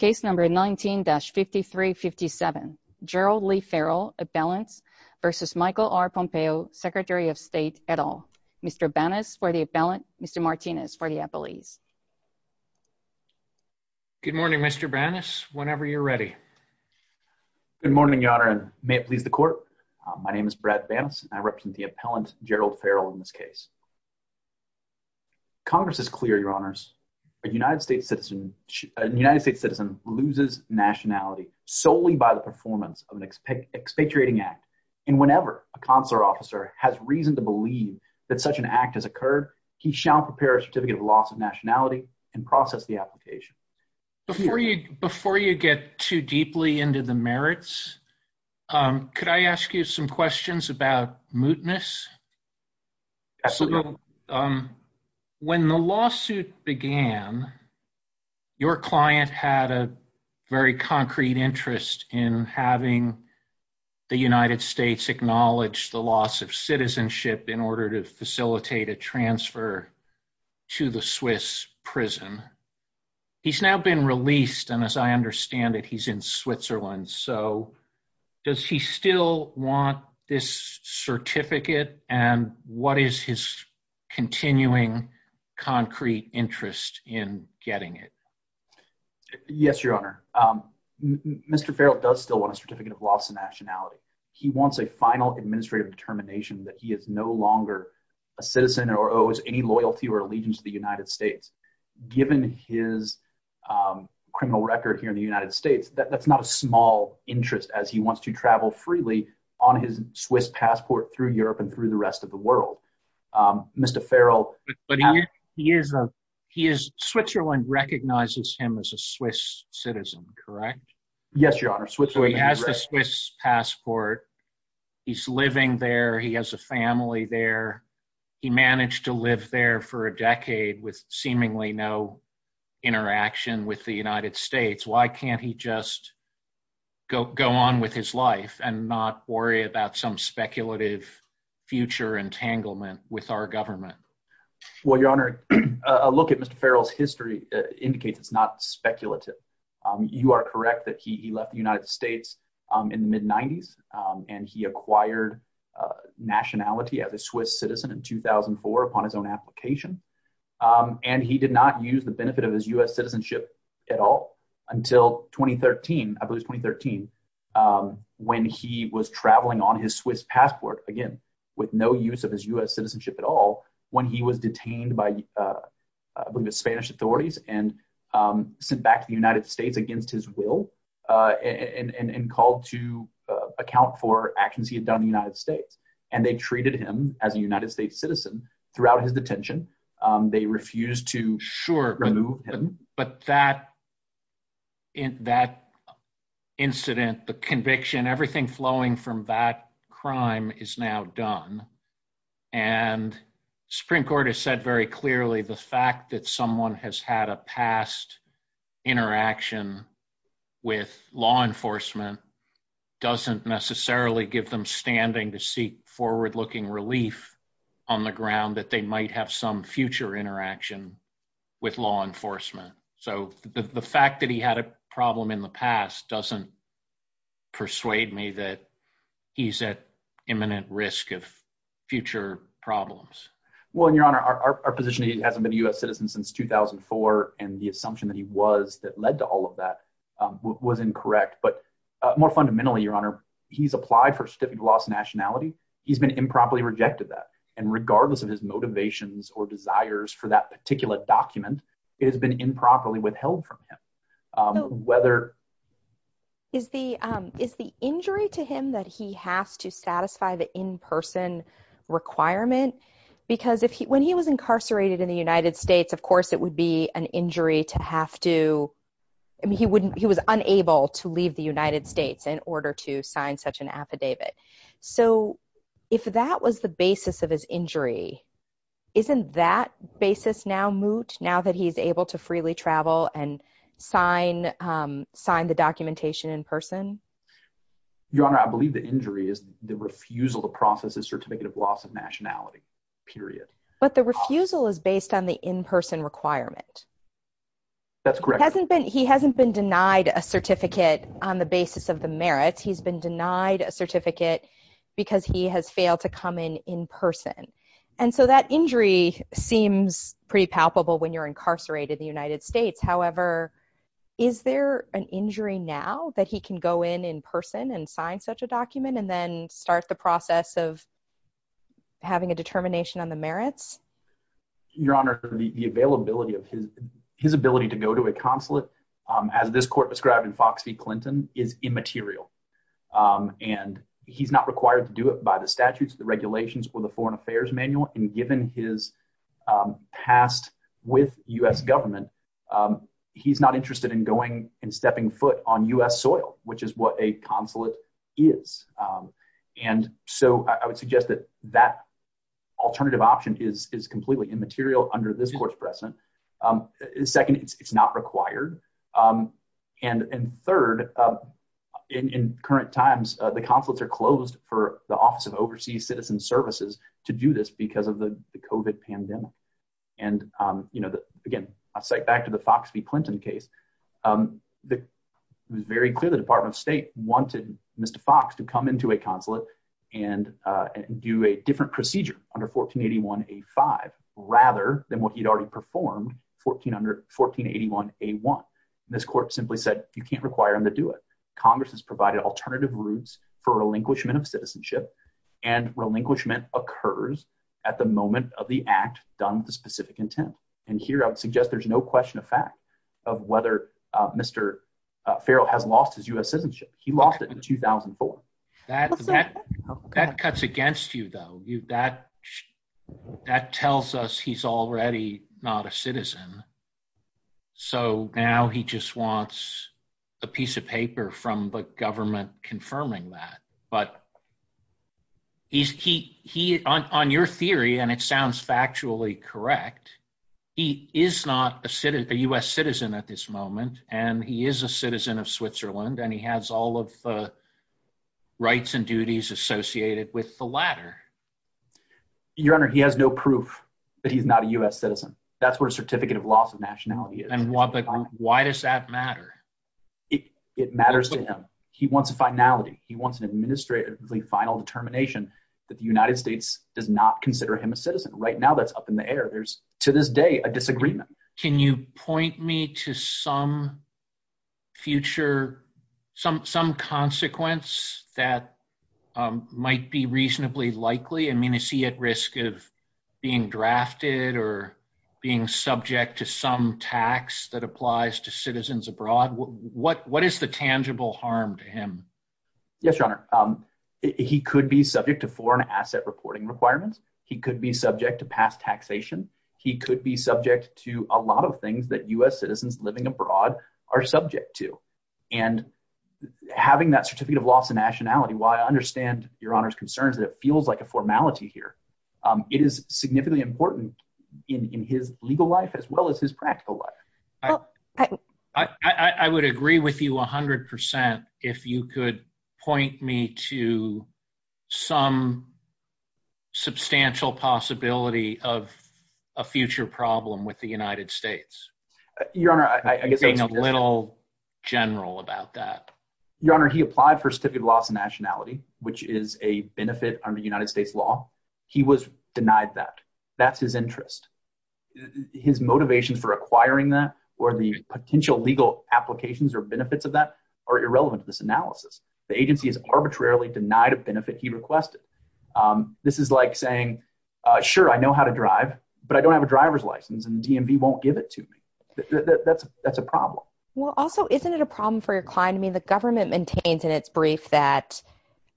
19-5357 Gerald Lee Farrell v. Michael R. Pompeo, Secretary of State, et al. Mr. Banas for the appellant, Mr. Martinez for the appellees. Good morning, Mr. Banas, whenever you're ready. Good morning, Your Honor, and may it please the Court. My name is Brad Banas, and I represent the appellant, Gerald Farrell, in this case. Congress is clear, Your Honors. A United States citizen loses nationality solely by the performance of an expatriating act. And whenever a consular officer has reason to believe that such an act has occurred, he shall prepare a certificate of loss of nationality and process the application. Before you get too deeply into the merits, could I ask you some questions about mootness? Absolutely. When the lawsuit began, your client had a very concrete interest in having the United States acknowledge the loss of citizenship in order to facilitate a transfer to the Swiss prison. He's now been released, and as I understand it, he's in Switzerland. So, does he still want this certificate, and what is his continuing concrete interest in getting it? Yes, Your Honor. Mr. Farrell does still want a certificate of loss of nationality. He wants a final administrative determination that he is no longer a citizen or owes any loyalty or allegiance to the United States. Given his criminal record here in the United States, that's not a small interest, as he wants to travel freely on his Swiss passport through Europe and through the rest of the world. Switzerland recognizes him as a Swiss citizen, correct? Yes, Your Honor. He has a Swiss passport. He's living there. He has a family there. He managed to live there for a decade with seemingly no interaction with the United States. Why can't he just go on with his life and not worry about some speculative future entanglement with our government? Well, Your Honor, a look at Mr. Farrell's history indicates it's not speculative. You are correct that he left the United States in the mid-'90s, and he acquired nationality as a Swiss citizen in 2004 upon his own application, and he did not use the benefit of his U.S. citizenship at all until 2013, I believe it was 2013, when he was traveling on his Swiss passport, again, with no use of his U.S. citizenship at all, when he was detained by the Spanish authorities and sent back to the United States against his will and called to account for actions he had done in the United States, and they treated him as a United States citizen throughout his detention. They refused to remove him. Sure, but that incident, the conviction, everything flowing from that crime is now done, and the Supreme Court has said very clearly the fact that someone has had a past interaction with law enforcement doesn't necessarily give them standing to seek forward-looking relief on the ground that they might have some future interaction with law enforcement. So the fact that he had a problem in the past doesn't persuade me that he's at imminent risk of future problems. Well, Your Honor, our position is he hasn't been a U.S. citizen since 2004, and the assumption that he was that led to all of that was incorrect, but more fundamentally, Your Honor, he's applied for certificate of lost nationality. He's been improperly rejected that, and regardless of his motivations or desires for that particular document, it has been improperly withheld from him. Is the injury to him that he has to satisfy the in-person requirement? Because when he was incarcerated in the United States, of course it would be an injury to have to – I mean, he was unable to leave the United States in order to sign such an affidavit. So if that was the basis of his injury, isn't that basis now moot, now that he's able to freely travel and sign the documentation in person? Your Honor, I believe the injury is the refusal to process his certificate of loss of nationality, period. But the refusal is based on the in-person requirement. That's correct. He hasn't been denied a certificate on the basis of the merits. He's been denied a certificate because he has failed to come in in person. And so that injury seems pretty palpable when you're incarcerated in the United States. However, is there an injury now that he can go in in person and sign such a document and then start the process of having a determination on the merits? Your Honor, the availability of his – his ability to go to a consulate, as this court described in Fox v. Clinton, is immaterial. And he's not required to do it by the statutes, the regulations, or the Foreign Affairs Manual. And given his past with U.S. government, he's not interested in going and stepping foot on U.S. soil, which is what a consulate is. And so I would suggest that that alternative option is completely immaterial under this court's precedent. Second, it's not required. And third, in current times, the consulates are closed for the Office of Overseas Citizen Services to do this because of the COVID pandemic. And, you know, again, I'll cite back to the Fox v. Clinton case. It was very clear the Department of State wanted Mr. Fox to come into a consulate and do a different procedure under 1481a-5 rather than what he'd already performed 1481a-1. And this court simply said you can't require him to do it. Congress has provided alternative routes for relinquishment of citizenship, and relinquishment occurs at the moment of the act done with a specific intent. And here I would suggest there's no question of fact of whether Mr. Farrell has lost his U.S. citizenship. He lost it in 2004. That cuts against you, though. That tells us he's already not a citizen. So now he just wants a piece of paper from the government confirming that. But on your theory, and it sounds factually correct, he is not a U.S. citizen at this moment, and he is a citizen of Switzerland, and he has all of the rights and duties associated with the latter. Your Honor, he has no proof that he's not a U.S. citizen. That's what a certificate of loss of nationality is. And why does that matter? It matters to him. He wants a finality. He wants an administratively final determination that the United States does not consider him a citizen. Right now that's up in the air. There's, to this day, a disagreement. Can you point me to some future, some consequence that might be reasonably likely? I mean, is he at risk of being drafted or being subject to some tax that applies to citizens abroad? What is the tangible harm to him? Yes, Your Honor. He could be subject to foreign asset reporting requirements. He could be subject to past taxation. He could be subject to a lot of things that U.S. citizens living abroad are subject to. And having that certificate of loss of nationality, while I understand Your Honor's concerns that it feels like a formality here, it is significantly important in his legal life as well as his practical life. I would agree with you 100% if you could point me to some substantial possibility of a future problem with the United States. Your Honor, I guess I was just— Being a little general about that. Your Honor, he applied for a certificate of loss of nationality, which is a benefit under United States law. He was denied that. That's his interest. His motivations for acquiring that or the potential legal applications or benefits of that are irrelevant to this analysis. The agency has arbitrarily denied a benefit he requested. This is like saying, sure, I know how to drive, but I don't have a driver's license and DMV won't give it to me. That's a problem. Well, also, isn't it a problem for your client? I mean, the government maintains in its brief that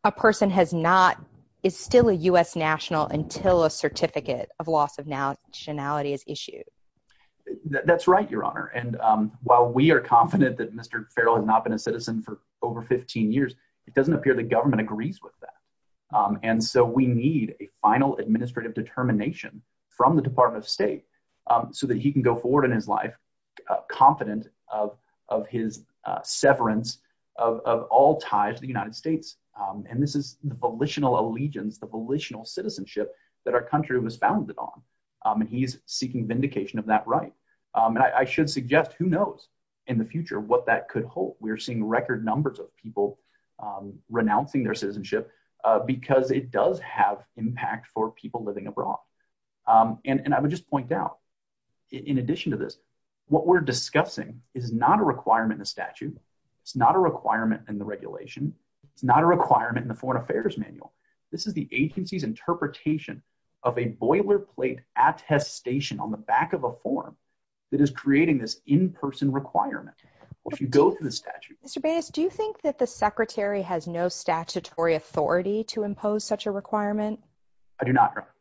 a person is still a U.S. national until a certificate of loss of nationality is issued. That's right, Your Honor. And while we are confident that Mr. Farrell has not been a citizen for over 15 years, it doesn't appear the government agrees with that. And so we need a final administrative determination from the Department of State so that he can go forward in his life confident of his severance of all ties to the United States. And this is the volitional allegiance, the volitional citizenship that our country was founded on. And he's seeking vindication of that right. And I should suggest who knows in the future what that could hold. We're seeing record numbers of people renouncing their citizenship because it does have impact for people living abroad. And I would just point out, in addition to this, what we're discussing is not a requirement in the statute. It's not a requirement in the regulation. It's not a requirement in the Foreign Affairs Manual. This is the agency's interpretation of a boilerplate attestation on the back of a form that is creating this in-person requirement. Mr. Bates, do you think that the Secretary has no statutory authority to impose such a requirement? I do not, Your Honor.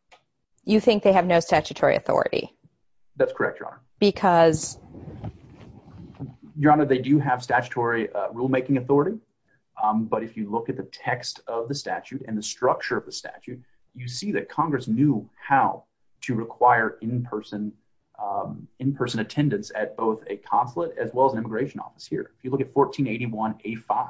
You think they have no statutory authority? That's correct, Your Honor. Because? Your Honor, they do have statutory rulemaking authority. But if you look at the text of the statute and the structure of the statute, you see that Congress knew how to require in-person attendance at both a consulate as well as an immigration office here. If you look at 1481A5,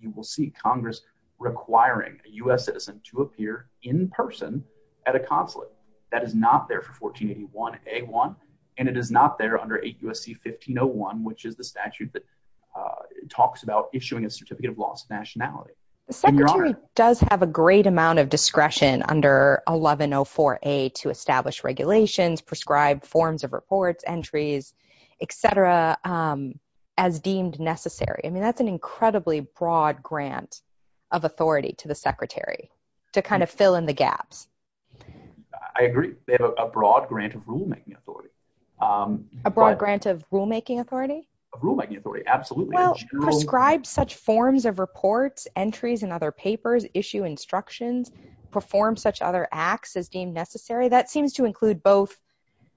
you will see Congress requiring a U.S. citizen to appear in person at a consulate. That is not there for 1481A1, and it is not there under 8 U.S.C. 1501, which is the statute that talks about issuing a Certificate of Lost Nationality. The Secretary does have a great amount of discretion under 1104A to establish regulations, prescribe forms of reports, entries, etc., as deemed necessary. I mean, that's an incredibly broad grant of authority to the Secretary to kind of fill in the gaps. I agree. They have a broad grant of rulemaking authority. A broad grant of rulemaking authority? Of rulemaking authority, absolutely. Well, prescribe such forms of reports, entries in other papers, issue instructions, perform such other acts as deemed necessary. That seems to include both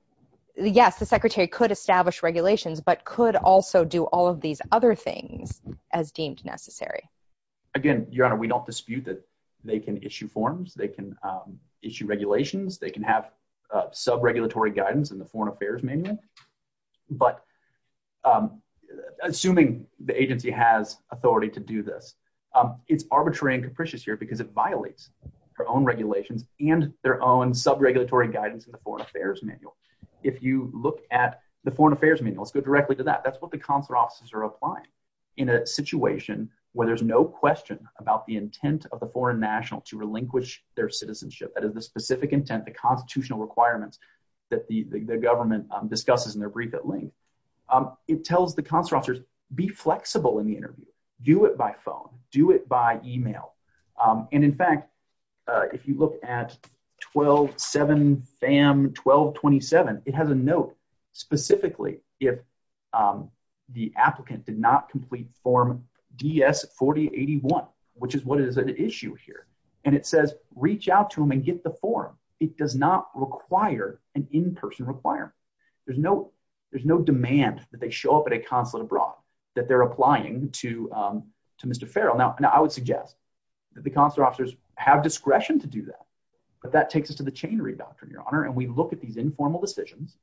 – yes, the Secretary could establish regulations, but could also do all of these other things as deemed necessary. Again, Your Honor, we don't dispute that they can issue forms, they can issue regulations, they can have sub-regulatory guidance in the Foreign Affairs Manual. But assuming the agency has authority to do this, it's arbitrary and capricious here because it violates their own regulations and their own sub-regulatory guidance in the Foreign Affairs Manual. If you look at the Foreign Affairs Manual – let's go directly to that. That's what the consular officers are applying in a situation where there's no question about the intent of the foreign national to relinquish their citizenship. That is the specific intent, the constitutional requirements that the government discusses in their brief at length. It tells the consular officers, be flexible in the interview. And in fact, if you look at 12-7-FAM-1227, it has a note specifically if the applicant did not complete Form DS-4081, which is what is at issue here. And it says, reach out to them and get the form. It does not require an in-person requirement. There's no demand that they show up at a consulate abroad that they're applying to Mr. Farrell. Now, I would suggest that the consular officers have discretion to do that, but that takes us to the chain readout, Your Honor. And we look at these informal decisions,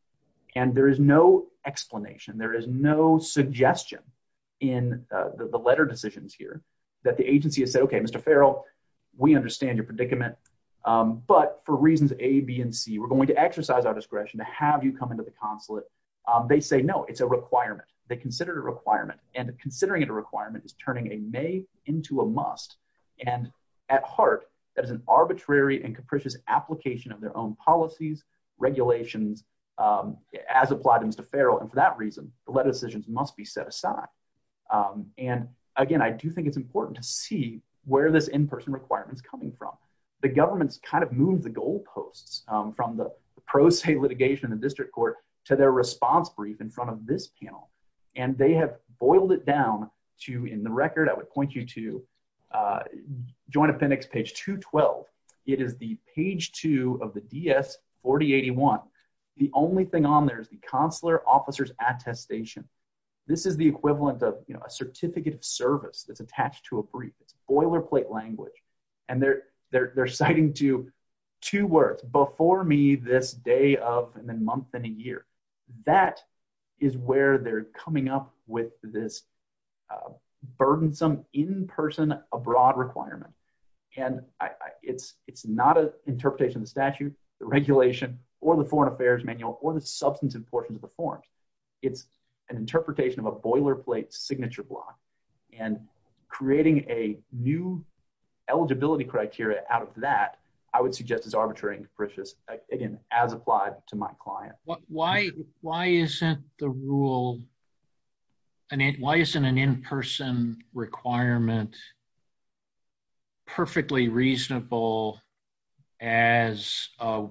and there is no explanation. There is no suggestion in the letter decisions here that the agency has said, okay, Mr. Farrell, we understand your predicament. But for reasons A, B, and C, we're going to exercise our discretion to have you come into the consulate. They say, no, it's a requirement. They consider it a requirement. And considering it a requirement is turning a may into a must. And at heart, that is an arbitrary and capricious application of their own policies, regulations, as applied to Mr. Farrell. And for that reason, the letter decisions must be set aside. And again, I do think it's important to see where this in-person requirement is coming from. The government's kind of moved the goalposts from the pro se litigation in the district court to their response brief in front of this panel. And they have boiled it down to, in the record, I would point you to Joint Appendix page 212. It is the page two of the DS-4081. The only thing on there is the consular officers' attestation. This is the equivalent of a certificate of service that's attached to a brief. It's boilerplate language. And they're citing to two words, before me this day of and then month and a year. That is where they're coming up with this burdensome in-person abroad requirement. And it's not an interpretation of the statute, the regulation, or the foreign affairs manual, or the substantive portions of the forms. It's an interpretation of a boilerplate signature block. And creating a new eligibility criteria out of that, I would suggest is arbitrary and capricious. Again, as applied to my client. Why isn't the rule, why isn't an in-person requirement perfectly reasonable as a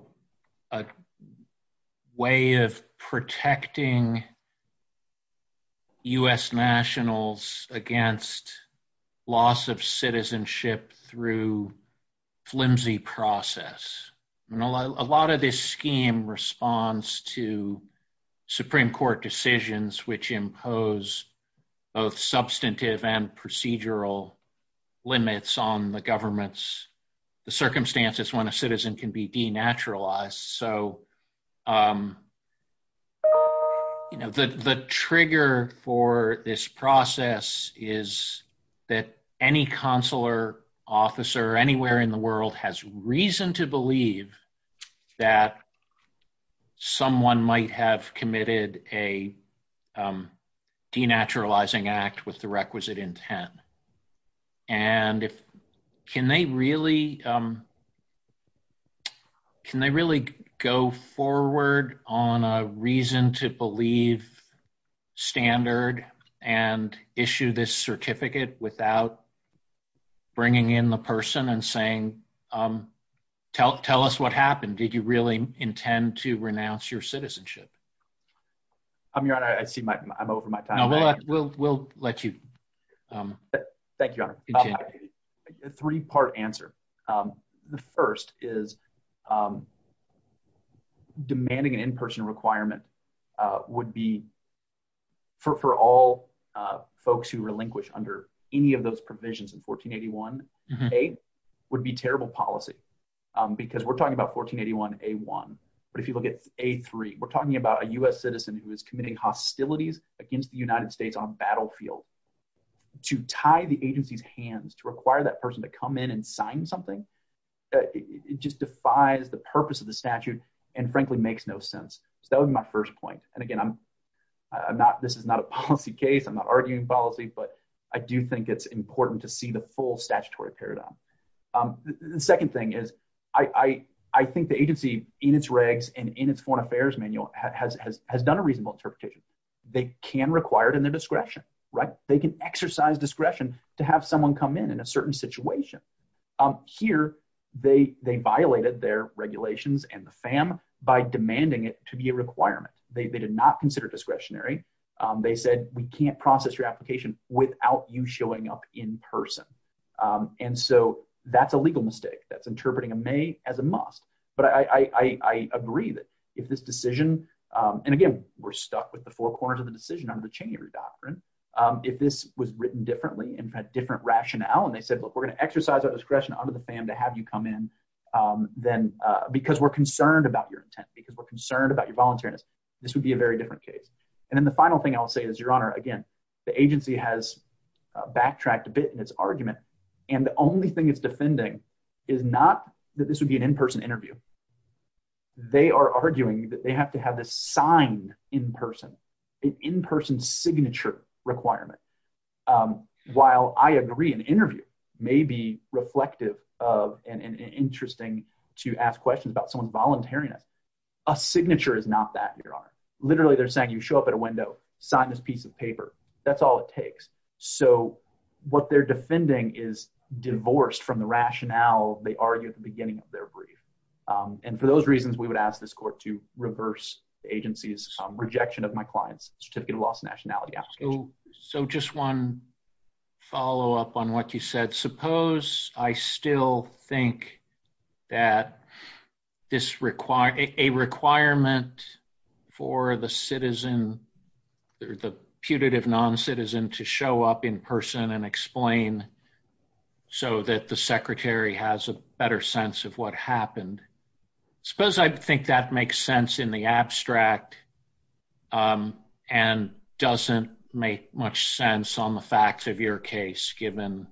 way of protecting U.S. nationals against loss of citizenship through flimsy process? A lot of this scheme responds to Supreme Court decisions which impose both substantive and procedural limits on the government's circumstances when a citizen can be denaturalized. So the trigger for this process is that any consular officer anywhere in the world has reason to believe that someone might have committed a denaturalizing act with the requisite intent. And if, can they really, can they really go forward on a reason to believe standard and issue this certificate without bringing in the person and saying, tell us what happened? Did you really intend to renounce your citizenship? Your Honor, I see I'm over my time. No, we'll let you continue. Thank you, Your Honor. A three-part answer. The first is demanding an in-person requirement would be, for all folks who relinquish under any of those provisions in 1481A, would be terrible policy. Because we're talking about 1481A1, but if you look at A3, we're talking about a U.S. citizen who is committing hostilities against the United States on a battlefield. To tie the agency's hands, to require that person to come in and sign something, it just defies the purpose of the statute and frankly makes no sense. So that would be my first point. And again, I'm not, this is not a policy case. I'm not arguing policy, but I do think it's important to see the full statutory paradigm. The second thing is, I think the agency in its regs and in its foreign affairs manual has done a reasonable interpretation. They can require it in their discretion, right? They can exercise discretion to have someone come in in a certain situation. Here, they violated their regulations and the FAM by demanding it to be a requirement. They did not consider it discretionary. They said, we can't process your application without you showing up in person. And so that's a legal mistake. That's interpreting a may as a must. But I agree that if this decision, and again, we're stuck with the four corners of the decision under the Cheney Redaction. If this was written differently and had different rationale and they said, look, we're going to exercise our discretion under the FAM to have you come in. Then, because we're concerned about your intent, because we're concerned about your voluntariness, this would be a very different case. And then the final thing I'll say is, Your Honor, again, the agency has backtracked a bit in its argument. And the only thing it's defending is not that this would be an in-person interview. They are arguing that they have to have this sign in person, an in-person signature requirement. While I agree an interview may be reflective of and interesting to ask questions about someone's voluntariness. A signature is not that, Your Honor. Literally, they're saying you show up at a window, sign this piece of paper. That's all it takes. So what they're defending is divorced from the rationale they argue at the beginning of their brief. And for those reasons, we would ask this court to reverse the agency's rejection of my client's certificate of loss of nationality application. So just one follow-up on what you said. Suppose I still think that a requirement for the citizen, the putative non-citizen, to show up in person and explain so that the secretary has a better sense of what happened. Suppose I think that makes sense in the abstract and doesn't make much sense on the facts of your case, given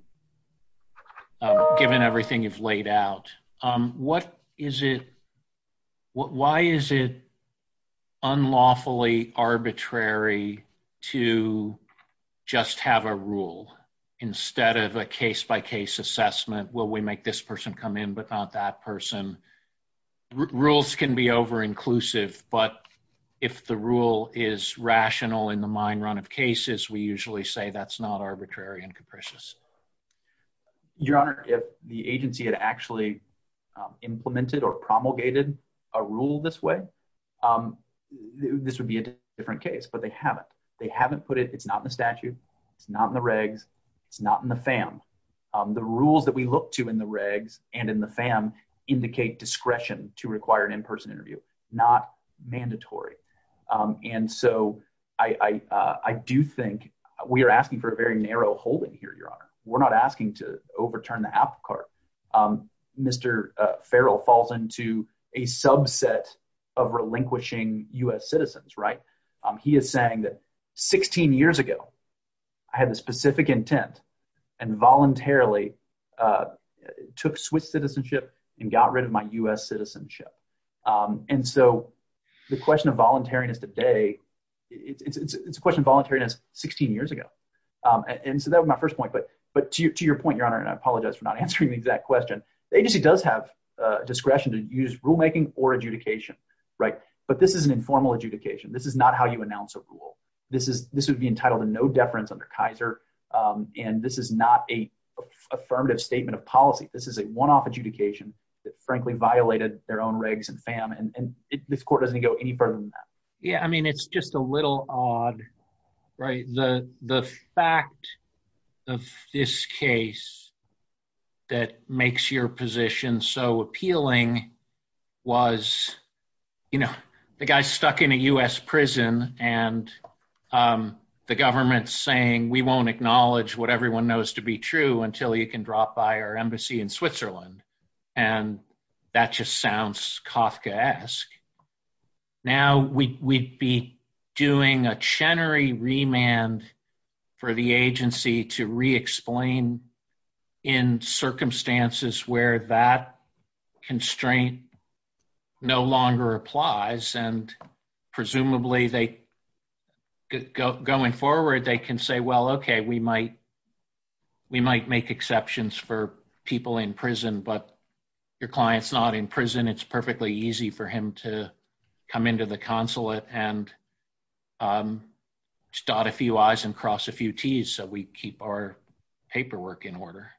everything you've laid out. Why is it unlawfully arbitrary to just have a rule instead of a case-by-case assessment? Will we make this person come in but not that person? Rules can be over-inclusive, but if the rule is rational in the mind run of cases, we usually say that's not arbitrary and capricious. Your Honor, if the agency had actually implemented or promulgated a rule this way, this would be a different case. But they haven't. They haven't put it. It's not in the statute. It's not in the regs. It's not in the FAM. The rules that we look to in the regs and in the FAM indicate discretion to require an in-person interview, not mandatory. And so I do think we are asking for a very narrow holding here, Your Honor. We're not asking to overturn the apple cart. Mr. Farrell falls into a subset of relinquishing U.S. citizens, right? He is saying that 16 years ago, I had a specific intent and voluntarily took Swiss citizenship and got rid of my U.S. citizenship. And so the question of voluntariness today, it's a question of voluntariness 16 years ago. And so that was my first point. But to your point, Your Honor, and I apologize for not answering the exact question, the agency does have discretion to use rulemaking or adjudication, right? But this is an informal adjudication. This is not how you announce a rule. This would be entitled to no deference under Kaiser, and this is not an affirmative statement of policy. This is a one-off adjudication that frankly violated their own regs and FAM. And this court doesn't go any further than that. Yeah, I mean, it's just a little odd, right? The fact of this case that makes your position so appealing was, you know, the guy stuck in a U.S. prison and the government saying we won't acknowledge what everyone knows to be true until you can drop by our embassy in Switzerland. And that just sounds Kafkaesque. Now we'd be doing a Chenery remand for the agency to re-explain in circumstances where that constraint no longer applies, and presumably going forward they can say, well, okay, we might make exceptions for people in prison, but your client's not in prison. It's perfectly easy for him to come into the consulate and dot a few I's and cross a few T's so we keep our paperwork in order.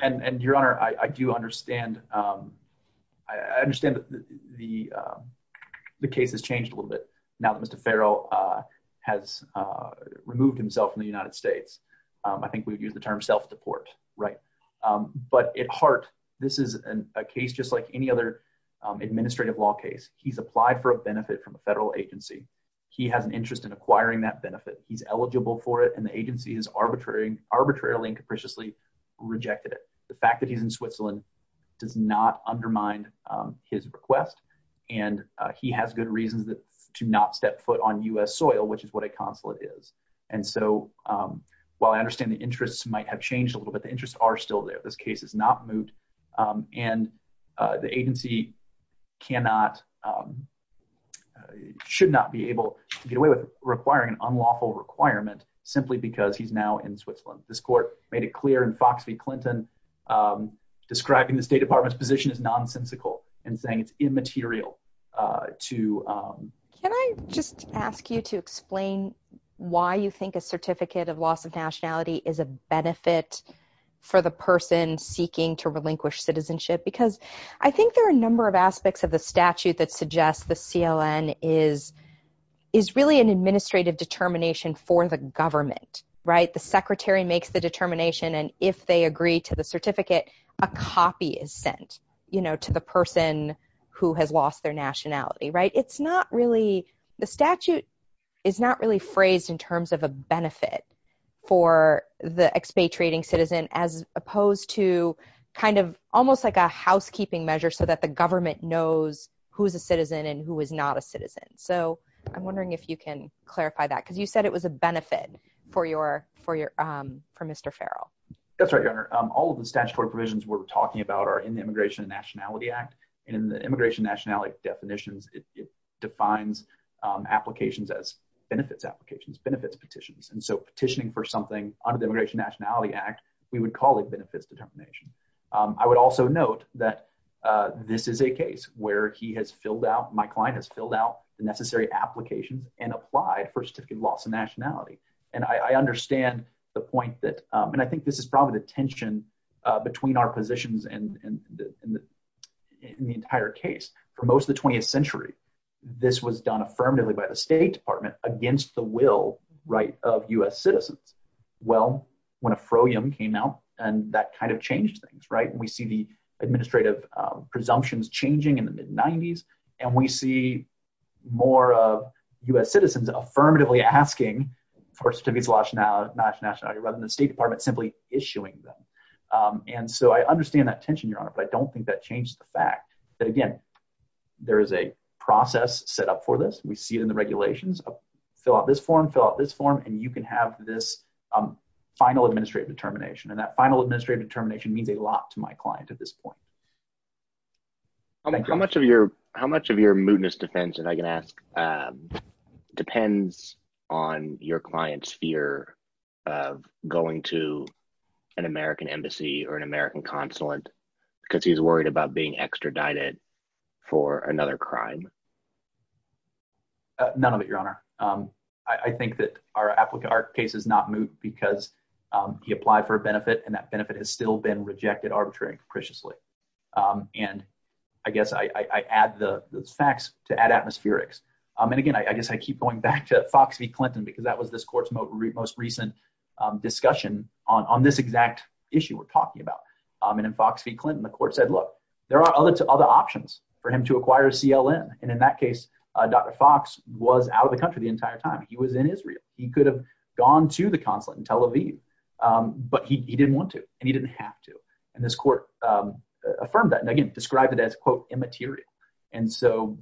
And, Your Honor, I do understand. I understand that the case has changed a little bit now that Mr. Farrell has removed himself from the United States. I think we would use the term self-deport, right? But at heart, this is a case just like any other administrative law case. He's applied for a benefit from a federal agency. He has an interest in acquiring that benefit. He's eligible for it, and the agency has arbitrarily and capriciously rejected it. The fact that he's in Switzerland does not undermine his request, and he has good reasons to not step foot on U.S. soil, which is what a consulate is. And so while I understand the interests might have changed a little bit, the interests are still there. This case is not moved, and the agency cannot, should not be able to get away with requiring an unlawful requirement simply because he's now in Switzerland. This court made it clear in Fox v. Clinton describing the State Department's position as nonsensical and saying it's immaterial to... Can I just ask you to explain why you think a certificate of loss of nationality is a benefit for the person seeking to relinquish citizenship? Because I think there are a number of aspects of the statute that suggest the CLN is really an administrative determination for the government, right? The secretary makes the determination, and if they agree to the certificate, a copy is sent, you know, to the person who has lost their nationality, right? It's not really... The statute is not really phrased in terms of a benefit for the expatriating citizen as opposed to kind of almost like a housekeeping measure so that the government knows who is a citizen and who is not a citizen. So I'm wondering if you can clarify that, because you said it was a benefit for Mr. Farrell. That's right, Your Honor. All of the statutory provisions we're talking about are in the Immigration and Nationality Act. In the Immigration and Nationality definitions, it defines applications as benefits applications, benefits petitions. And so petitioning for something under the Immigration and Nationality Act, we would call it benefits determination. I would also note that this is a case where he has filled out, my client has filled out the necessary applications and applied for a certificate of loss of nationality. And I understand the point that, and I think this is probably the tension between our positions and the entire case. For most of the 20th century, this was done affirmatively by the State Department against the will, right, of U.S. citizens. Well, when a fro-yum came out, and that kind of changed things, right, and we see the administrative presumptions changing in the mid-90s, and we see more of U.S. citizens affirmatively asking for certificates of nationality rather than the State Department simply issuing them. And so I understand that tension, Your Honor, but I don't think that changed the fact that, again, there is a process set up for this. We see it in the regulations, fill out this form, fill out this form, and you can have this final administrative determination. And that final administrative determination means a lot to my client at this point. How much of your mootness defense, if I can ask, depends on your client's fear of going to an American embassy or an American consulate because he's worried about being extradited for another crime? None of it, Your Honor. I think that our case is not moot because he applied for a benefit, and that benefit has still been rejected arbitrarily and capriciously. And I guess I add the facts to add atmospherics. And again, I guess I keep going back to Fox v. Clinton because that was this Court's most recent discussion on this exact issue we're talking about. And in Fox v. Clinton, the Court said, look, there are other options for him to acquire a CLN. And in that case, Dr. Fox was out of the country the entire time. He was in Israel. He could have gone to the consulate in Tel Aviv, but he didn't want to, and he didn't have to. And this Court affirmed that and again described it as, quote, immaterial. And so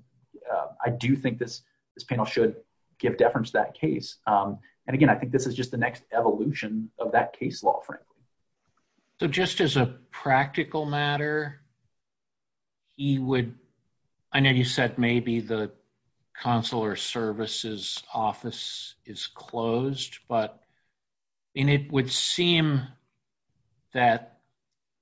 I do think this panel should give deference to that case. And again, I think this is just the next evolution of that case law, frankly. So just as a practical matter, he would, I know you said maybe the consular services office is closed, but it would seem that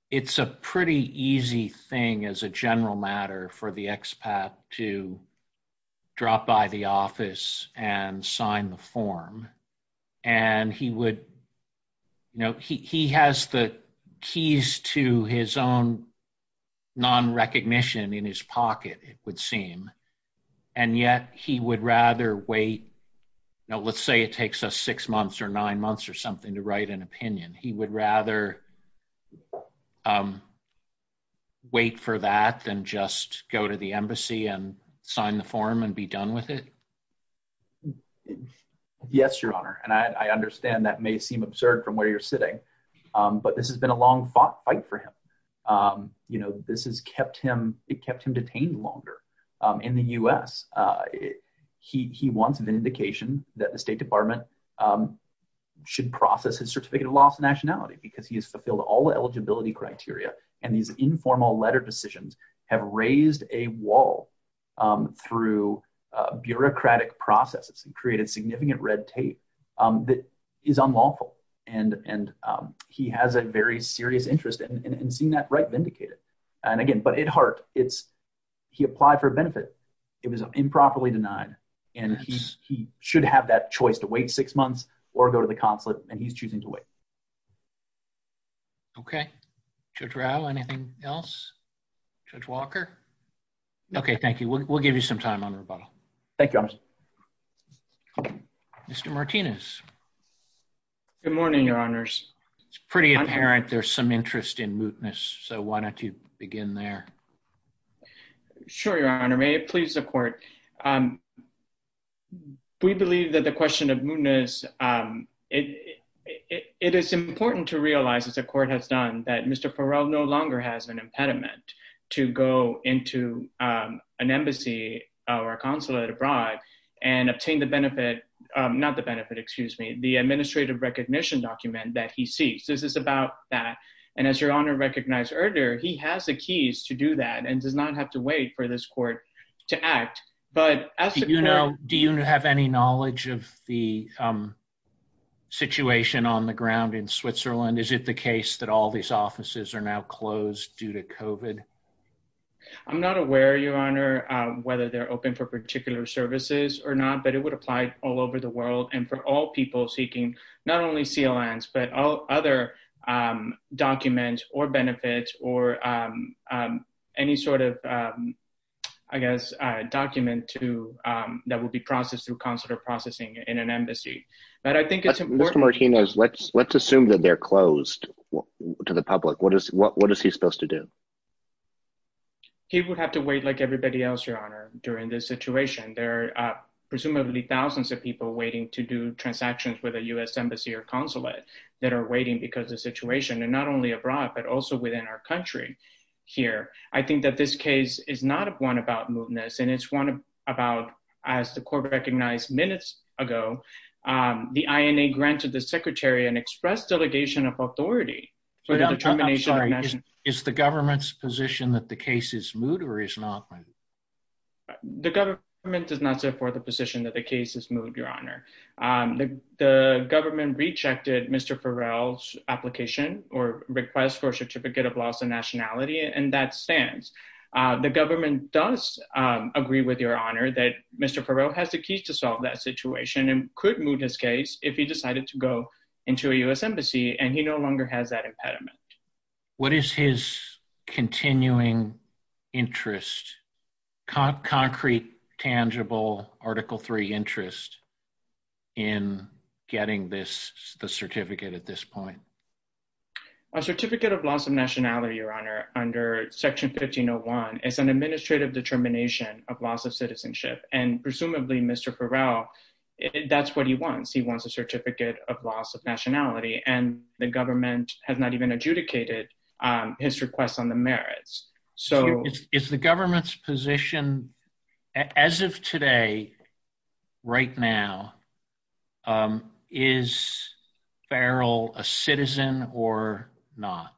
it's a pretty easy thing as a general matter for the expat to drop by the office and sign the form. And he would, you know, he has the keys to his own non-recognition in his pocket, it would seem. And yet he would rather wait. Now, let's say it takes us six months or nine months or something to write an opinion. He would rather wait for that than just go to the embassy and sign the form and be done with it. Yes, Your Honor, and I understand that may seem absurd from where you're sitting, but this has been a long fight for him. You know, this has kept him, it kept him detained longer. In the U.S., he wants vindication that the State Department should process his certificate of lawful nationality because he has fulfilled all the eligibility criteria. And these informal letter decisions have raised a wall through bureaucratic processes and created significant red tape that is unlawful. And he has a very serious interest in seeing that right vindicated. And again, but at heart, he applied for benefit. It was improperly denied. And he should have that choice to wait six months or go to the consulate, and he's choosing to wait. Okay. Judge Rao, anything else? Judge Walker? Okay, thank you. We'll give you some time on rebuttal. Thank you, Your Honor. Mr. Martinez. Good morning, Your Honors. It's pretty apparent there's some interest in mootness, so why don't you begin there? Sure, Your Honor. May it please the Court. We believe that the question of mootness, it is important to realize, as the Court has done, that Mr. Farrell no longer has an impediment to go into an embassy or a consulate abroad and obtain the benefit, not the benefit, excuse me, the administrative recognition document that he seeks. This is about that. And as Your Honor recognized earlier, he has the keys to do that and does not have to wait for this Court to act. Do you have any knowledge of the situation on the ground in Switzerland? Is it the case that all these offices are now closed due to COVID? I'm not aware, Your Honor, whether they're open for particular services or not, but it would apply all over the world. And for all people seeking not only CLNs but all other documents or benefits or any sort of, I guess, document that would be processed through consular processing in an embassy. Mr. Martinez, let's assume that they're closed to the public. What is he supposed to do? He would have to wait like everybody else, Your Honor, during this situation. There are presumably thousands of people waiting to do transactions with a U.S. embassy or consulate that are waiting because of the situation, and not only abroad, but also within our country here. I think that this case is not one about mootness, and it's one about, as the Court recognized minutes ago, the INA granted the Secretary an express delegation of authority for the determination of the nation. Is the government's position that the case is moot or is not? The government does not support the position that the case is moot, Your Honor. The government rejected Mr. Farrell's application or request for a certificate of loss of nationality, and that stands. The government does agree with Your Honor that Mr. Farrell has the keys to solve that situation and could moot his case if he decided to go into a U.S. embassy, and he no longer has that impediment. What is his continuing interest, concrete, tangible Article III interest in getting the certificate at this point? A certificate of loss of nationality, Your Honor, under Section 1501 is an administrative determination of loss of citizenship, and presumably Mr. Farrell, that's what he wants. He wants a certificate of loss of nationality, and the government has not even adjudicated his request on the merits. Is the government's position, as of today, right now, is Farrell a citizen or not?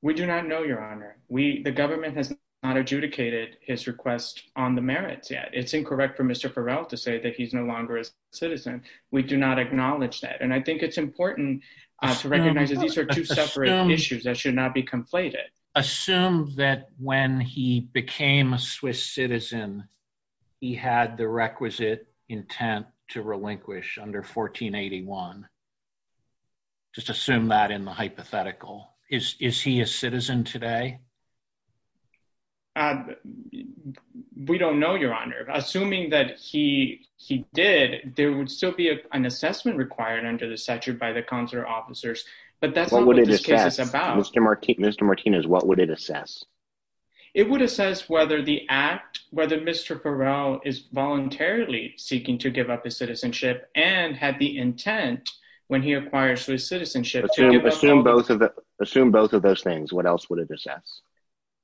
We do not know, Your Honor. The government has not adjudicated his request on the merits yet. It's incorrect for Mr. Farrell to say that he's no longer a citizen. We do not acknowledge that, and I think it's important to recognize that these are two separate issues that should not be conflated. Assume that when he became a Swiss citizen, he had the requisite intent to relinquish under 1481. Just assume that in the hypothetical. Is he a citizen today? We don't know, Your Honor. Assuming that he did, there would still be an assessment required under the statute by the consular officers, but that's not what this case is about. Mr. Martinez, what would it assess? It would assess whether the act, whether Mr. Farrell is voluntarily seeking to give up his citizenship and had the intent when he acquires his citizenship to give up his citizenship. Assume both of those things. What else would it assess?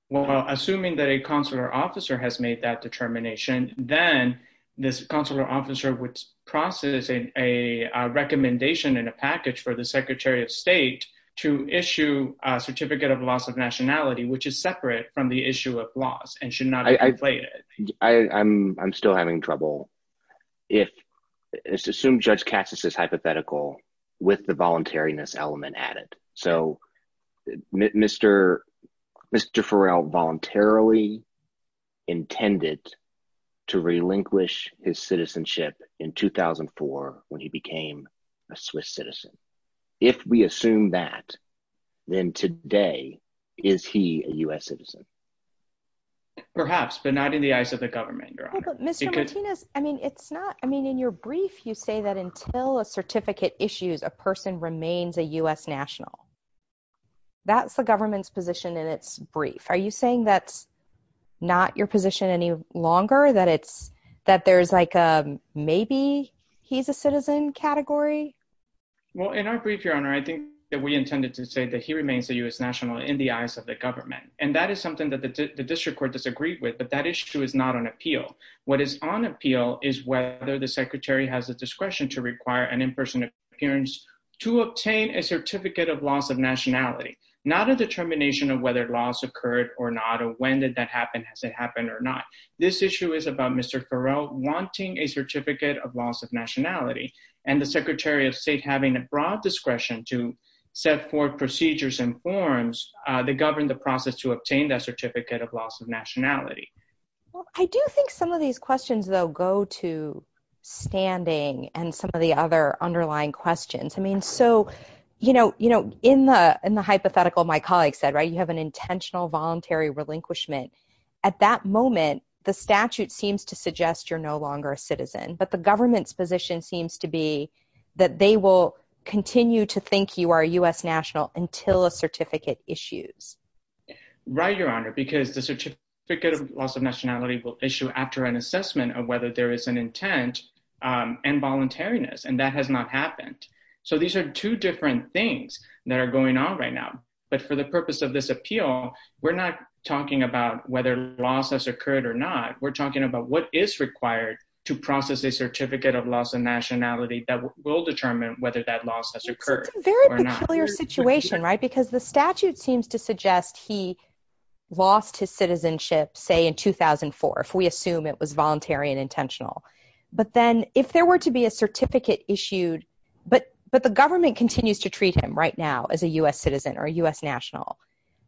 Well, assuming that a consular officer has made that determination, then this consular officer would process a recommendation in a package for the Secretary of State to issue a Certificate of Loss of Nationality, which is separate from the issue of loss and should not be conflated. I'm still having trouble. Assume Judge Cassis' hypothetical with the voluntariness element added. So Mr. Farrell voluntarily intended to relinquish his citizenship in 2004 when he became a Swiss citizen. If we assume that, then today, is he a U.S. citizen? Perhaps, but not in the eyes of the government, Your Honor. Mr. Martinez, I mean, it's not, I mean, in your brief, you say that until a certificate issues, a person remains a U.S. national. That's the government's position in its brief. Are you saying that's not your position any longer, that it's, that there's like a maybe he's a citizen category? Well, in our brief, Your Honor, I think that we intended to say that he remains a U.S. national in the eyes of the government. And that is something that the district court disagreed with, but that issue is not on appeal. What is on appeal is whether the secretary has the discretion to require an in-person appearance to obtain a Certificate of Loss of Nationality. Not a determination of whether loss occurred or not, or when did that happen, has it happened or not. This issue is about Mr. Farrell wanting a Certificate of Loss of Nationality. And the Secretary of State having a broad discretion to set forth procedures and forms that govern the process to obtain that Certificate of Loss of Nationality. Well, I do think some of these questions, though, go to standing and some of the other underlying questions. I mean, so, you know, in the hypothetical, my colleague said, right, you have an intentional voluntary relinquishment. At that moment, the statute seems to suggest you're no longer a citizen. But the government's position seems to be that they will continue to think you are U.S. national until a certificate issues. Right, Your Honor, because the Certificate of Loss of Nationality will issue after an assessment of whether there is an intent and voluntariness. And that has not happened. So these are two different things that are going on right now. But for the purpose of this appeal, we're not talking about whether loss has occurred or not. We're talking about what is required to process a Certificate of Loss of Nationality that will determine whether that loss has occurred or not. It's a very peculiar situation, right, because the statute seems to suggest he lost his citizenship, say, in 2004, if we assume it was voluntary and intentional. But then if there were to be a certificate issued, but the government continues to treat him right now as a U.S. citizen or a U.S. national.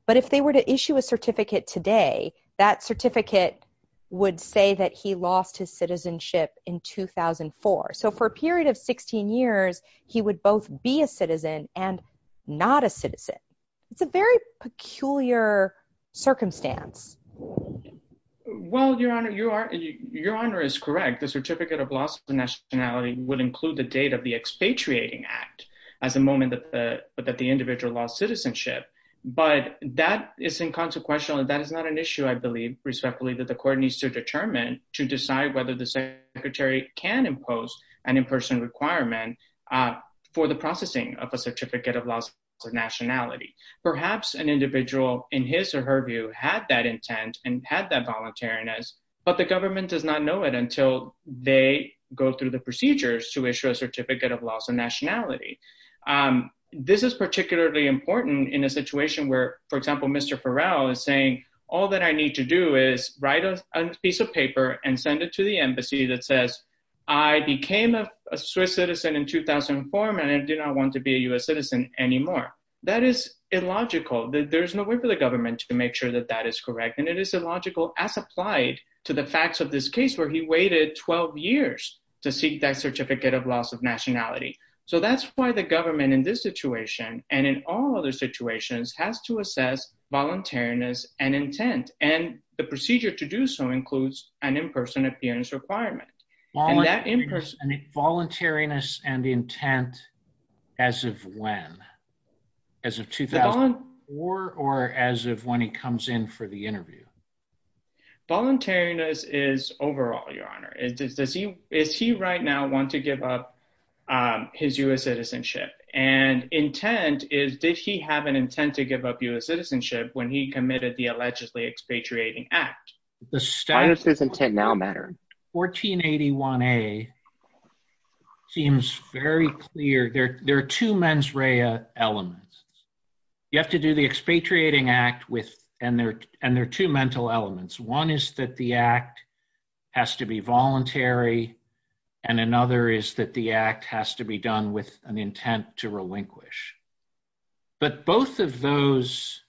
But if they were to issue a certificate today, that certificate would say that he lost his citizenship in 2004. So for a period of 16 years, he would both be a citizen and not a citizen. It's a very peculiar circumstance. Well, Your Honor, Your Honor is correct. The Certificate of Loss of Nationality would include the date of the expatriating act as a moment that the individual lost citizenship. But that is inconsequential and that is not an issue, I believe, respectfully, that the court needs to determine to decide whether the secretary can impose an in-person requirement for the processing of a Certificate of Loss of Nationality. Perhaps an individual, in his or her view, had that intent and had that voluntariness, but the government does not know it until they go through the procedures to issue a Certificate of Loss of Nationality. This is particularly important in a situation where, for example, Mr. Farrell is saying, all that I need to do is write a piece of paper and send it to the embassy that says, I became a Swiss citizen in 2004 and I do not want to be a U.S. citizen anymore. That is illogical. There's no way for the government to make sure that that is correct. And it is illogical as applied to the facts of this case where he waited 12 years to seek that Certificate of Loss of Nationality. So that's why the government in this situation and in all other situations has to assess voluntariness and intent. And the procedure to do so includes an in-person appearance requirement. Voluntariness and intent as of when? As of 2004 or as of when he comes in for the interview? Voluntariness is overall, Your Honor. Does he right now want to give up his U.S. citizenship? And intent is, did he have an intent to give up U.S. citizenship when he committed the allegedly expatriating act? Why does his intent now matter? 1481A seems very clear. There are two mens rea elements. You have to do the expatriating act with, and there are two mental elements. One is that the act has to be voluntary. And another is that the act has to be done with an intent to relinquish. But both of those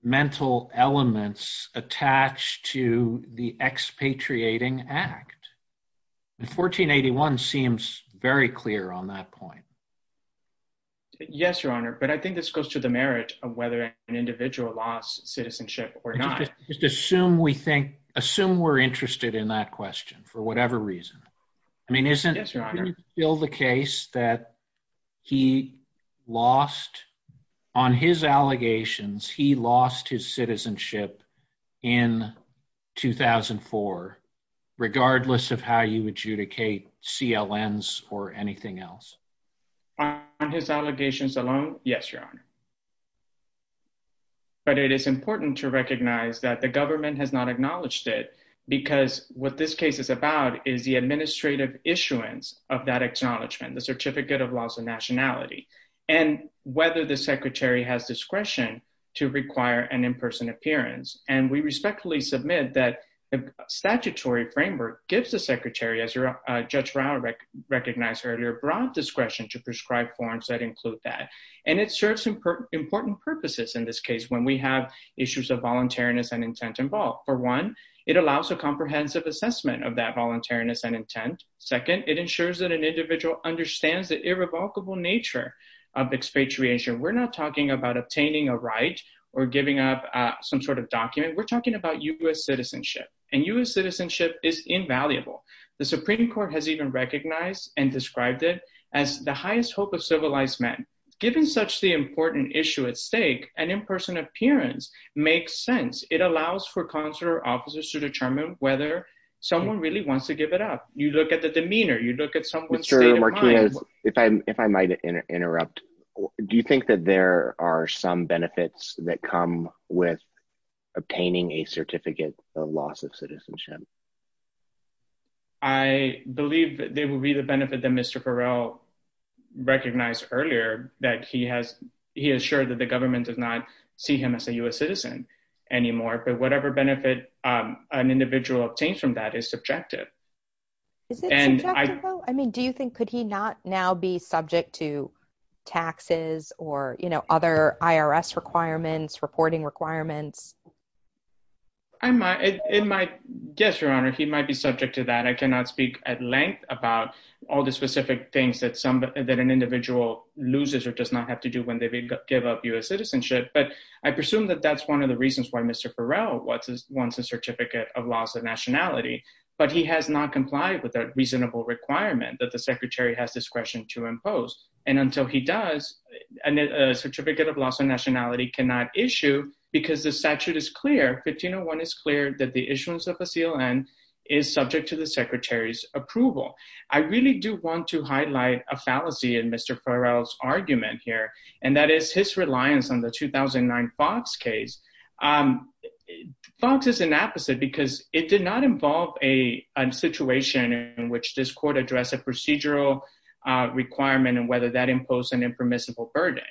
mental elements attach to the expatriating act. And 1481 seems very clear on that point. Yes, Your Honor. But I think this goes to the merit of whether an individual lost citizenship or not. Just assume we think, assume we're interested in that question for whatever reason. I mean, isn't it still the case that he lost, on his allegations, he lost his citizenship in 2004, regardless of how you adjudicate CLNs or anything else? On his allegations alone? Yes, Your Honor. But it is important to recognize that the government has not acknowledged it, because what this case is about is the administrative issuance of that acknowledgement, the Certificate of Loss of Nationality, and whether the secretary has discretion to require an in-person appearance. And we respectfully submit that the statutory framework gives the secretary, as Judge Rao recognized earlier, broad discretion to prescribe forms that include that. And it serves important purposes in this case when we have issues of voluntariness and intent involved. For one, it allows a comprehensive assessment of that voluntariness and intent. Second, it ensures that an individual understands the irrevocable nature of expatriation. We're not talking about obtaining a right or giving up some sort of document. We're talking about U.S. citizenship. And U.S. citizenship is invaluable. The Supreme Court has even recognized and described it as the highest hope of civilized men. Given such the important issue at stake, an in-person appearance makes sense. It allows for consular officers to determine whether someone really wants to give it up. You look at the demeanor, you look at someone's state of mind. Mr. Martinez, if I might interrupt, do you think that there are some benefits that come with obtaining a Certificate of Loss of Citizenship? I believe there will be the benefit that Mr. Farrell recognized earlier, that he assured that the government does not see him as a U.S. citizen anymore. But whatever benefit an individual obtains from that is subjective. Is it subjective, Rao? I mean, do you think, could he not now be subject to taxes or, you know, other IRS requirements, reporting requirements? Yes, Your Honor, he might be subject to that. I cannot speak at length about all the specific things that an individual loses or does not have to do when they give up U.S. citizenship. But I presume that that's one of the reasons why Mr. Farrell wants a Certificate of Loss of Nationality. But he has not complied with a reasonable requirement that the Secretary has discretion to impose. And until he does, a Certificate of Loss of Nationality cannot issue because the statute is clear, 1501 is clear, that the issuance of a CLN is subject to the Secretary's approval. I really do want to highlight a fallacy in Mr. Farrell's argument here, and that is his reliance on the 2009 Fox case. Fox is an opposite because it did not involve a situation in which this court addressed a procedural requirement and whether that imposed an impermissible burden.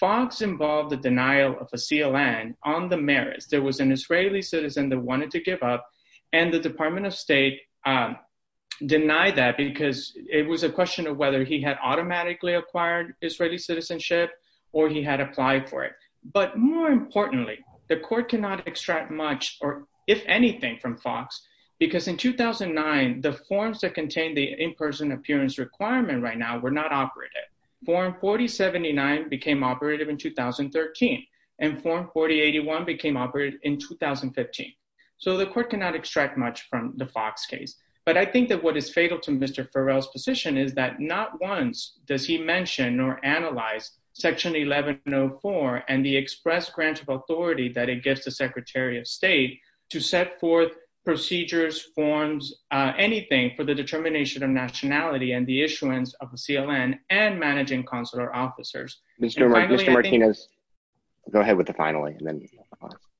Fox involved the denial of a CLN on the merits. There was an Israeli citizen that wanted to give up, and the Department of State denied that because it was a question of whether he had automatically acquired Israeli citizenship or he had applied for it. But more importantly, the court cannot extract much, or if anything, from Fox because in 2009, the forms that contained the in-person appearance requirement right now were not operative. Form 4079 became operative in 2013, and Form 4081 became operative in 2015. So the court cannot extract much from the Fox case. But I think that what is fatal to Mr. Farrell's position is that not once does he mention or analyze Section 1104 and the express grant of authority that it gives the Secretary of State to set forth procedures, forms, anything for the determination of nationality and the issuance of a CLN and managing consular officers. Mr. Martinez, go ahead with the finally.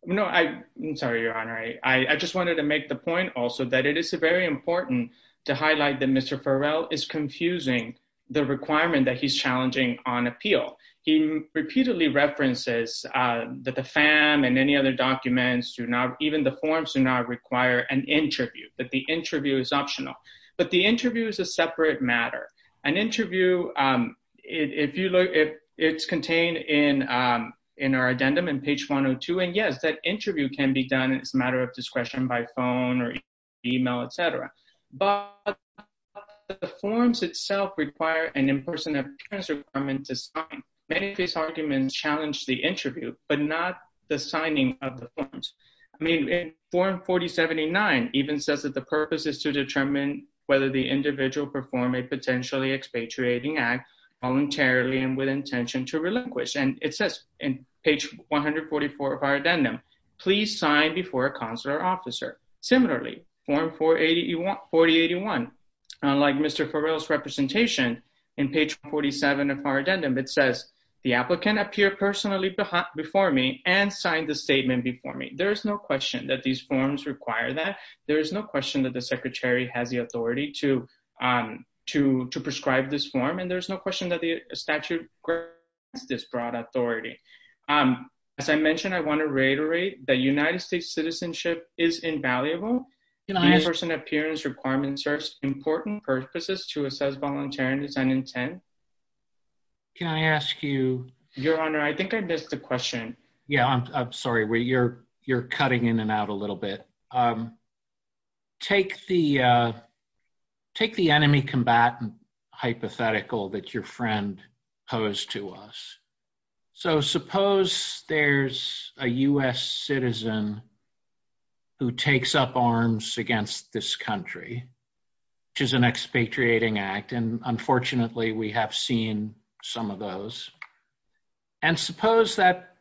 No, I'm sorry, Your Honor. I just wanted to make the point also that it is very important to highlight that Mr. Farrell is confusing the requirement that he's challenging on appeal. He repeatedly references that the FAM and any other documents, even the forms, do not require an interview, that the interview is optional. But the interview is a separate matter. An interview, if you look, it's contained in our addendum on page 102, and yes, that interview can be done as a matter of discretion by phone or email, etc. But the forms itself require an in-person appearance requirement to sign. Many of his arguments challenge the interview, but not the signing of the forms. I mean, in Form 4079 even says that the purpose is to determine whether the individual performed a potentially expatriating act voluntarily and with intention to relinquish. And it says in page 144 of our addendum, please sign before a consular officer. Similarly, Form 4081, unlike Mr. Farrell's representation, in page 47 of our addendum, it says the applicant appeared personally before me and signed the statement before me. There is no question that these forms require that. There is no question that the Secretary has the authority to prescribe this form, and there's no question that the statute requires this broad authority. As I mentioned, I want to reiterate that United States citizenship is invaluable. In-person appearance requirements are important purposes to assess voluntariness and intent. Can I ask you... Your Honor, I think I missed the question. Yeah, I'm sorry. You're cutting in and out a little bit. Take the enemy combatant hypothetical that your friend posed to us. So suppose there's a U.S. citizen who takes up arms against this country, which is an expatriating act. And unfortunately, we have seen some of those. And suppose that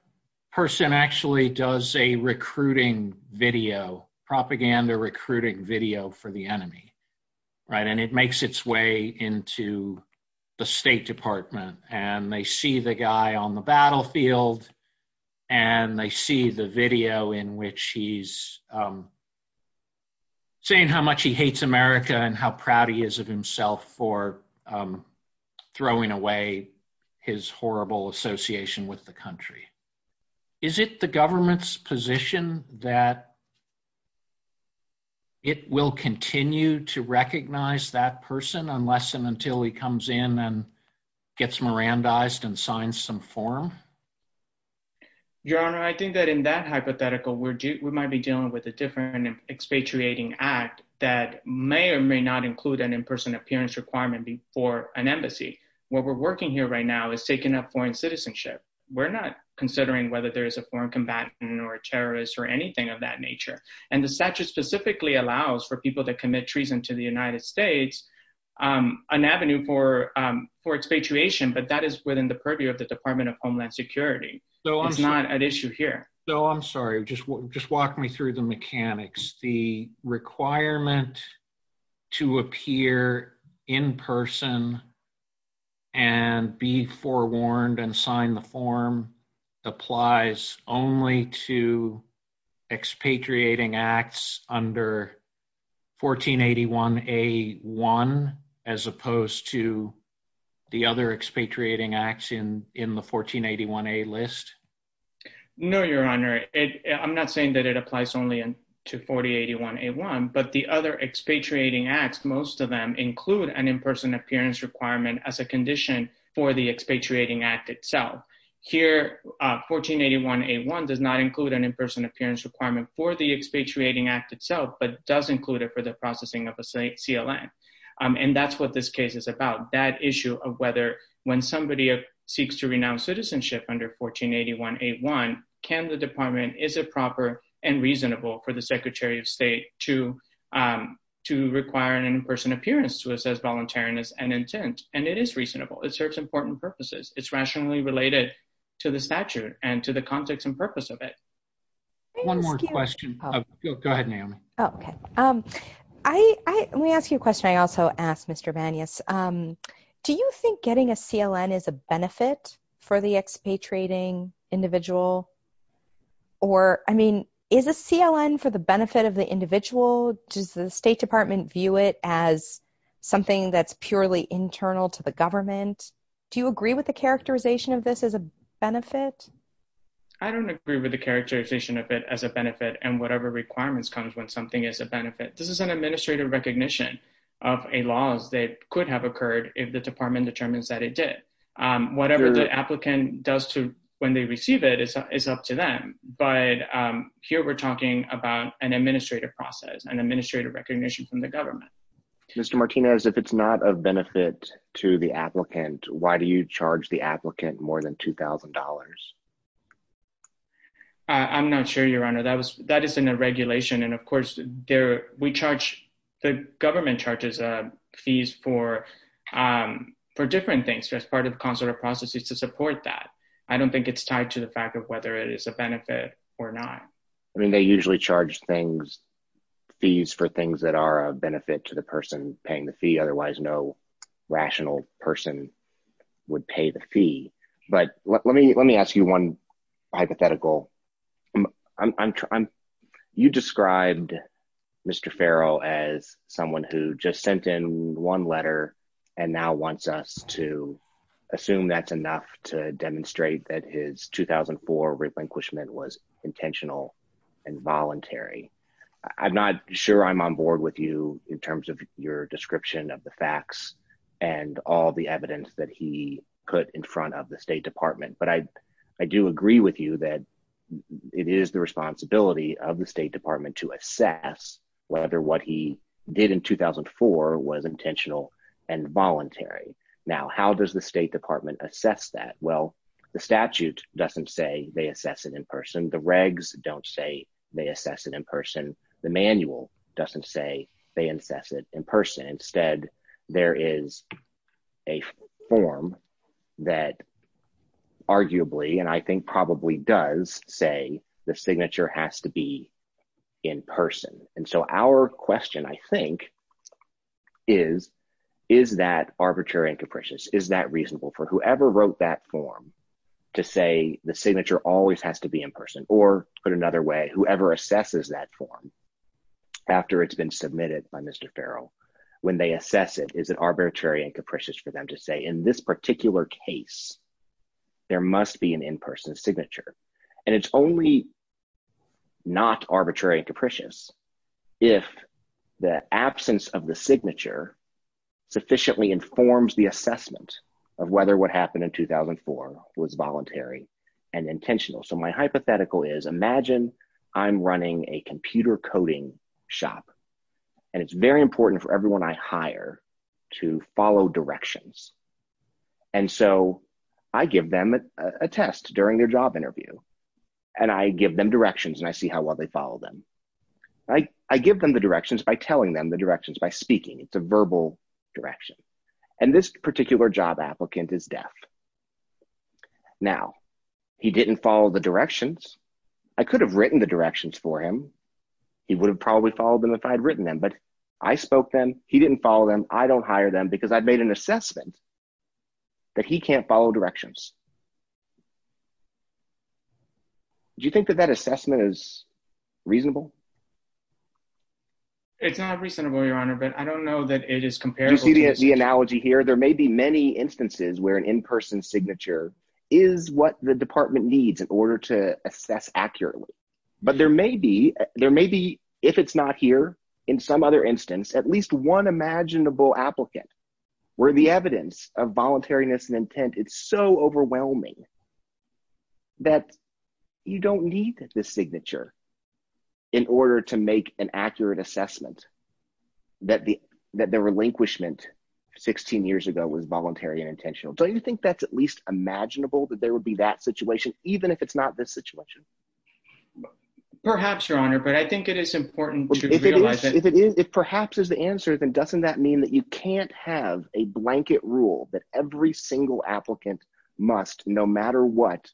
person actually does a recruiting video, propaganda recruiting video for the enemy, right? And it makes its way into the State Department, and they see the guy on the battlefield, and they see the video in which he's saying how much he hates America and how proud he is of himself for throwing away his horrible association with the country. Is it the government's position that it will continue to recognize that person unless and until he comes in and gets Mirandized and signs some form? Your Honor, I think that in that hypothetical, we might be dealing with a different expatriating act that may or may not include an in-person appearance requirement for an embassy. What we're working here right now is taking up foreign citizenship. We're not considering whether there is a foreign combatant or a terrorist or anything of that nature. And the statute specifically allows for people to commit treason to the United States an avenue for expatriation, but that is within the purview of the Department of Homeland Security. It's not an issue here. So I'm sorry, just walk me through the mechanics. The requirement to appear in person and be forewarned and sign the form applies only to expatriating acts under 1481A1 as opposed to the other expatriating acts in the 1481A list? No, Your Honor. I'm not saying that it applies only to 1481A1, but the other expatriating acts, most of them include an in-person appearance requirement as a condition for the expatriating act itself. Here, 1481A1 does not include an in-person appearance requirement for the expatriating act itself, but does include it for the processing of a CLN. And that's what this case is about. That issue of whether when somebody seeks to renounce citizenship under 1481A1, can the department, is it proper and reasonable for the Secretary of State to require an in-person appearance to assess voluntariness and intent? And it is reasonable. It serves important purposes. It's rationally related to the statute and to the context and purpose of it. One more question. Go ahead, Naomi. Let me ask you a question I also asked, Mr. Vanius. Do you think getting a CLN is a benefit for the expatriating individual? Or, I mean, is a CLN for the benefit of the individual? Does the State Department view it as something that's purely internal to the government? Do you agree with the characterization of this as a benefit? I don't agree with the characterization of it as a benefit and whatever requirements comes when something is a benefit. This is an administrative recognition of a laws that could have occurred if the department determines that it did. Whatever the applicant does to when they receive it is up to them. But here we're talking about an administrative process and administrative recognition from the government. Mr. Martinez, if it's not a benefit to the applicant, why do you charge the applicant more than $2,000? I'm not sure, Your Honor. That is in the regulation. And, of course, the government charges fees for different things as part of consular processes to support that. I don't think it's tied to the fact of whether it is a benefit or not. I mean, they usually charge fees for things that are a benefit to the person paying the fee. Otherwise, no rational person would pay the fee. But let me ask you one hypothetical. You described Mr. Farrell as someone who just sent in one letter and now wants us to assume that's enough to demonstrate that his 2004 relinquishment was intentional and voluntary. I'm not sure I'm on board with you in terms of your description of the facts and all the evidence that he put in front of the State Department. But I do agree with you that it is the responsibility of the State Department to assess whether what he did in 2004 was intentional and voluntary. Now, how does the State Department assess that? Well, the statute doesn't say they assess it in person. The regs don't say they assess it in person. The manual doesn't say they assess it in person. Instead, there is a form that arguably, and I think probably does, say the signature has to be in person. And so our question, I think, is, is that arbitrary and capricious? Is that reasonable for whoever wrote that form to say the signature always has to be in person? Or put another way, whoever assesses that form after it's been submitted by Mr. Farrell, when they assess it, is it arbitrary and capricious for them to say in this particular case, there must be an in-person signature? And it's only not arbitrary and capricious if the absence of the signature sufficiently informs the assessment of whether what happened in 2004 was voluntary and intentional. So my hypothetical is, imagine I'm running a computer coding shop. And it's very important for everyone I hire to follow directions. And so I give them a test during their job interview. And I give them directions and I see how well they follow them. I give them the directions by telling them the directions by speaking. It's a verbal direction. And this particular job applicant is deaf. Now, he didn't follow the directions. I could have written the directions for him. He would have probably followed them if I had written them, but I spoke to him. He didn't follow them. I don't hire them because I made an assessment that he can't follow directions. Do you think that that assessment is reasonable? It's not reasonable, Your Honor, but I don't know that it is comparable. You see the analogy here? There may be many instances where an in-person signature is what the department needs in order to assess accurately. But there may be, if it's not here, in some other instance, at least one imaginable applicant where the evidence of voluntariness and intent is so overwhelming that you don't need the signature in order to make an accurate assessment that the relinquishment 16 years ago was voluntary and intentional. Don't you think that's at least imaginable that there would be that situation, even if it's not this situation? Perhaps, Your Honor, but I think it is important to realize that… If perhaps is the answer, then doesn't that mean that you can't have a blanket rule that every single applicant must, no matter what,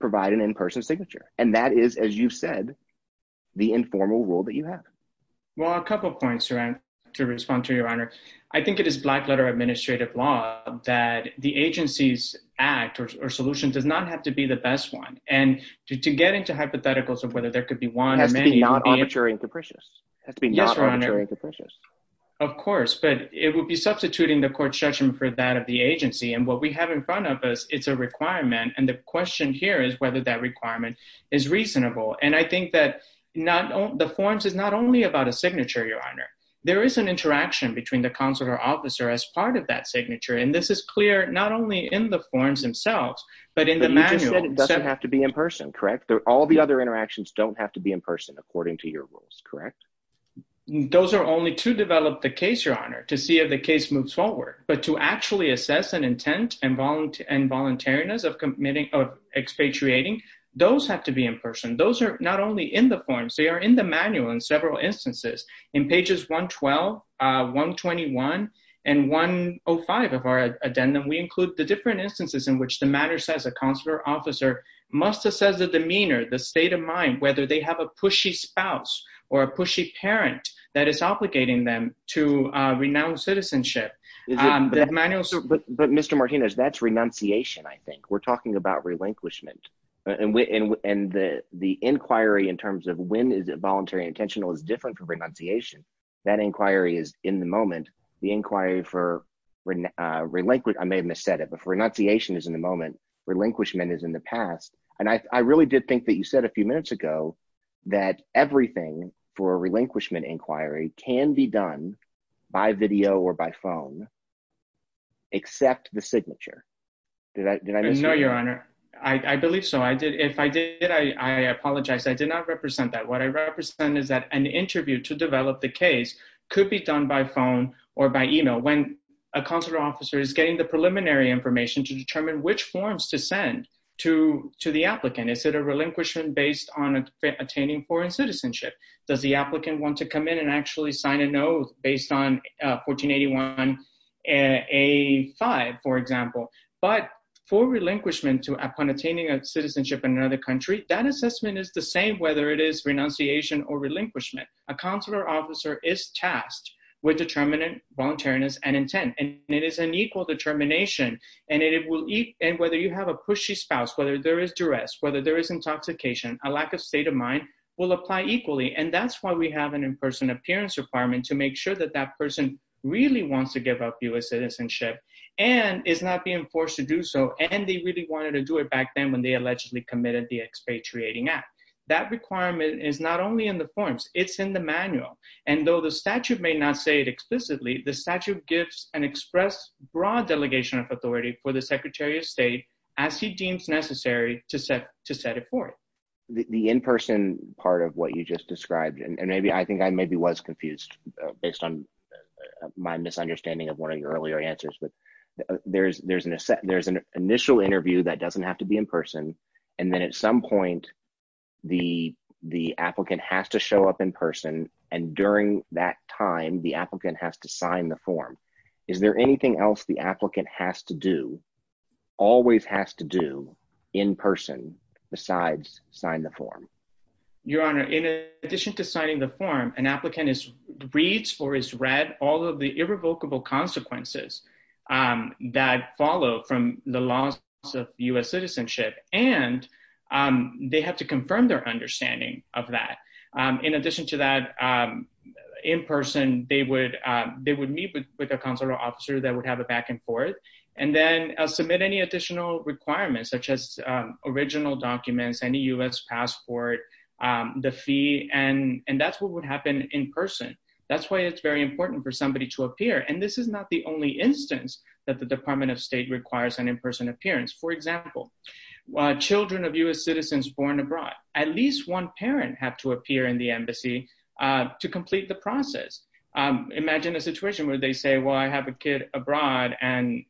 provide an in-person signature? And that is, as you said, the informal rule that you have. Well, a couple points to respond to, Your Honor. I think it is black-letter administrative law that the agency's act or solution does not have to be the best one. And to get into hypotheticals of whether there could be one or many… It has to be not arbitrary and capricious. Yes, Your Honor. Of course, but it would be substituting the court's judgment for that of the agency. And what we have in front of us, it's a requirement. And the question here is whether that requirement is reasonable. And I think that the forms is not only about a signature, Your Honor. There is an interaction between the consular officer as part of that signature. And this is clear not only in the forms themselves, but in the manual. But you just said it doesn't have to be in person, correct? All the other interactions don't have to be in person, according to your rules, correct? Those are only to develop the case, Your Honor, to see if the case moves forward. But to actually assess an intent and voluntariness of expatriating, those have to be in person. Those are not only in the forms, they are in the manual in several instances. In pages 112, 121, and 105 of our addendum, we include the different instances in which the matter says a consular officer must assess the demeanor, the state of mind, whether they have a pushy spouse or a pushy parent that is obligating them to renounce citizenship. But Mr. Martinez, that's renunciation, I think. We're talking about relinquishment. And the inquiry in terms of when is it voluntary and intentional is different from renunciation. That inquiry is in the moment. The inquiry for relinquishment, I may have missaid it, but for renunciation is in the moment, relinquishment is in the past. And I really did think that you said a few minutes ago that everything for a relinquishment inquiry can be done by video or by phone, except the signature. No, Your Honor. I believe so. If I did, I apologize. I did not represent that. What I represent is that an interview to develop the case could be done by phone or by email when a consular officer is getting the preliminary information to determine which forms to send to the applicant. Is it a relinquishment based on attaining foreign citizenship? Does the applicant want to come in and actually sign a note based on 1481A5, for example? But for relinquishment upon attaining citizenship in another country, that assessment is the same, whether it is renunciation or relinquishment. A consular officer is tasked with determining voluntariness and intent, and it is an equal determination, and whether you have a pushy spouse, whether there is duress, whether there is intoxication, a lack of state of mind will apply equally. And that's why we have an in-person appearance requirement to make sure that that person really wants to give up U.S. citizenship and is not being forced to do so, and they really wanted to do it back then when they allegedly committed the expatriating act. That requirement is not only in the forms, it's in the manual. And though the statute may not say it explicitly, the statute gives an express broad delegation of authority for the Secretary of State as he deems necessary to set it forth. The in-person part of what you just described, and I think I maybe was confused based on my misunderstanding of one of your earlier answers, but there's an initial interview that doesn't have to be in person, and then at some point, the applicant has to show up in person, and during that time, the applicant has to sign the form. Is there anything else the applicant has to do, always has to do, in person besides sign the form? Your Honor, in addition to signing the form, an applicant reads or has read all of the irrevocable consequences that follow from the loss of U.S. citizenship, and they have to confirm their understanding of that. In addition to that, in person, they would meet with a consular officer that would have a back and forth, and then submit any additional requirements such as original documents, any U.S. passport, the fee, and that's what would happen in person. That's why it's very important for somebody to appear, and this is not the only instance that the Department of State requires an in-person appearance. For example, children of U.S. citizens born abroad, at least one parent have to appear in the embassy to complete the process. Imagine a situation where they say, well, I have a kid abroad, and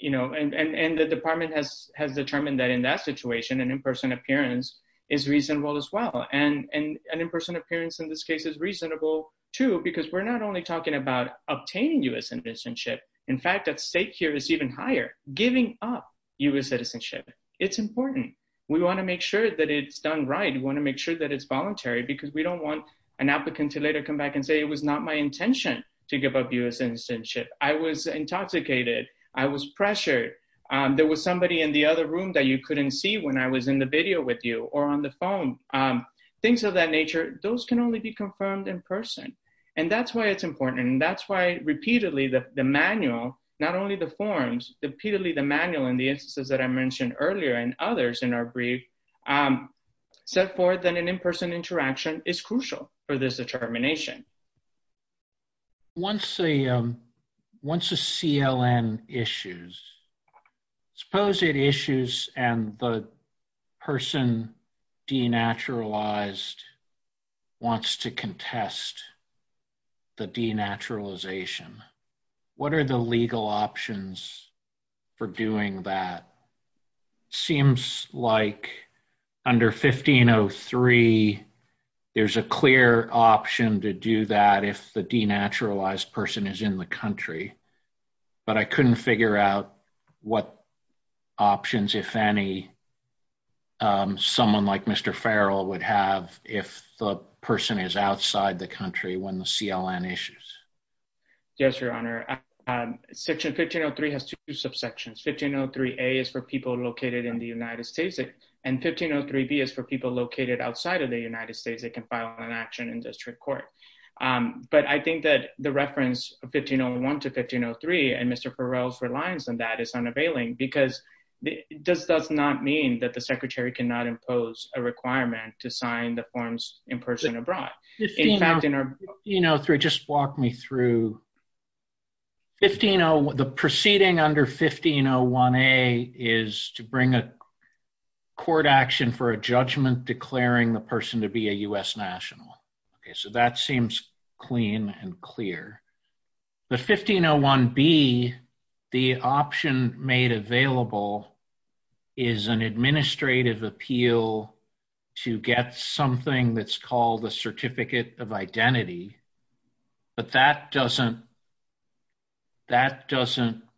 the department has determined that in that situation, an in-person appearance is reasonable as well, and an in-person appearance in this case is reasonable, too, because we're not only talking about obtaining U.S. citizenship. In fact, at stake here is even higher, giving up U.S. citizenship. It's important. We want to make sure that it's done right. We want to make sure that it's voluntary because we don't want an applicant to later come back and say it was not my intention to give up U.S. citizenship. I was intoxicated. I was pressured. There was somebody in the other room that you couldn't see when I was in the video with you or on the phone. Things of that nature, those can only be confirmed in person, and that's why it's important, and that's why repeatedly the manual, not only the forms, repeatedly the manual in the instances that I mentioned earlier and others in our brief set forth that an in-person interaction is crucial for this determination. Once a CLN issues, suppose it issues and the person denaturalized wants to contest the denaturalization. What are the legal options for doing that? It seems like under 1503, there's a clear option to do that if the denaturalized person is in the country, but I couldn't figure out what options, if any, someone like Mr. Farrell would have if the person is outside the country when the CLN issues. Yes, Your Honor. Section 1503 has two subsections. 1503A is for people located in the United States, and 1503B is for people located outside of the United States that can file an action in district court. But I think that the reference of 1501 to 1503 and Mr. Farrell's reliance on that is unavailing because it does not mean that the Secretary cannot impose a requirement to sign the forms in person abroad. Just walk me through. The proceeding under 1501A is to bring a court action for a judgment declaring the person to be a U.S. national. Okay, so that seems clean and clear. But 1501B, the option made available is an administrative appeal to get something that's called a certificate of identity, but that doesn't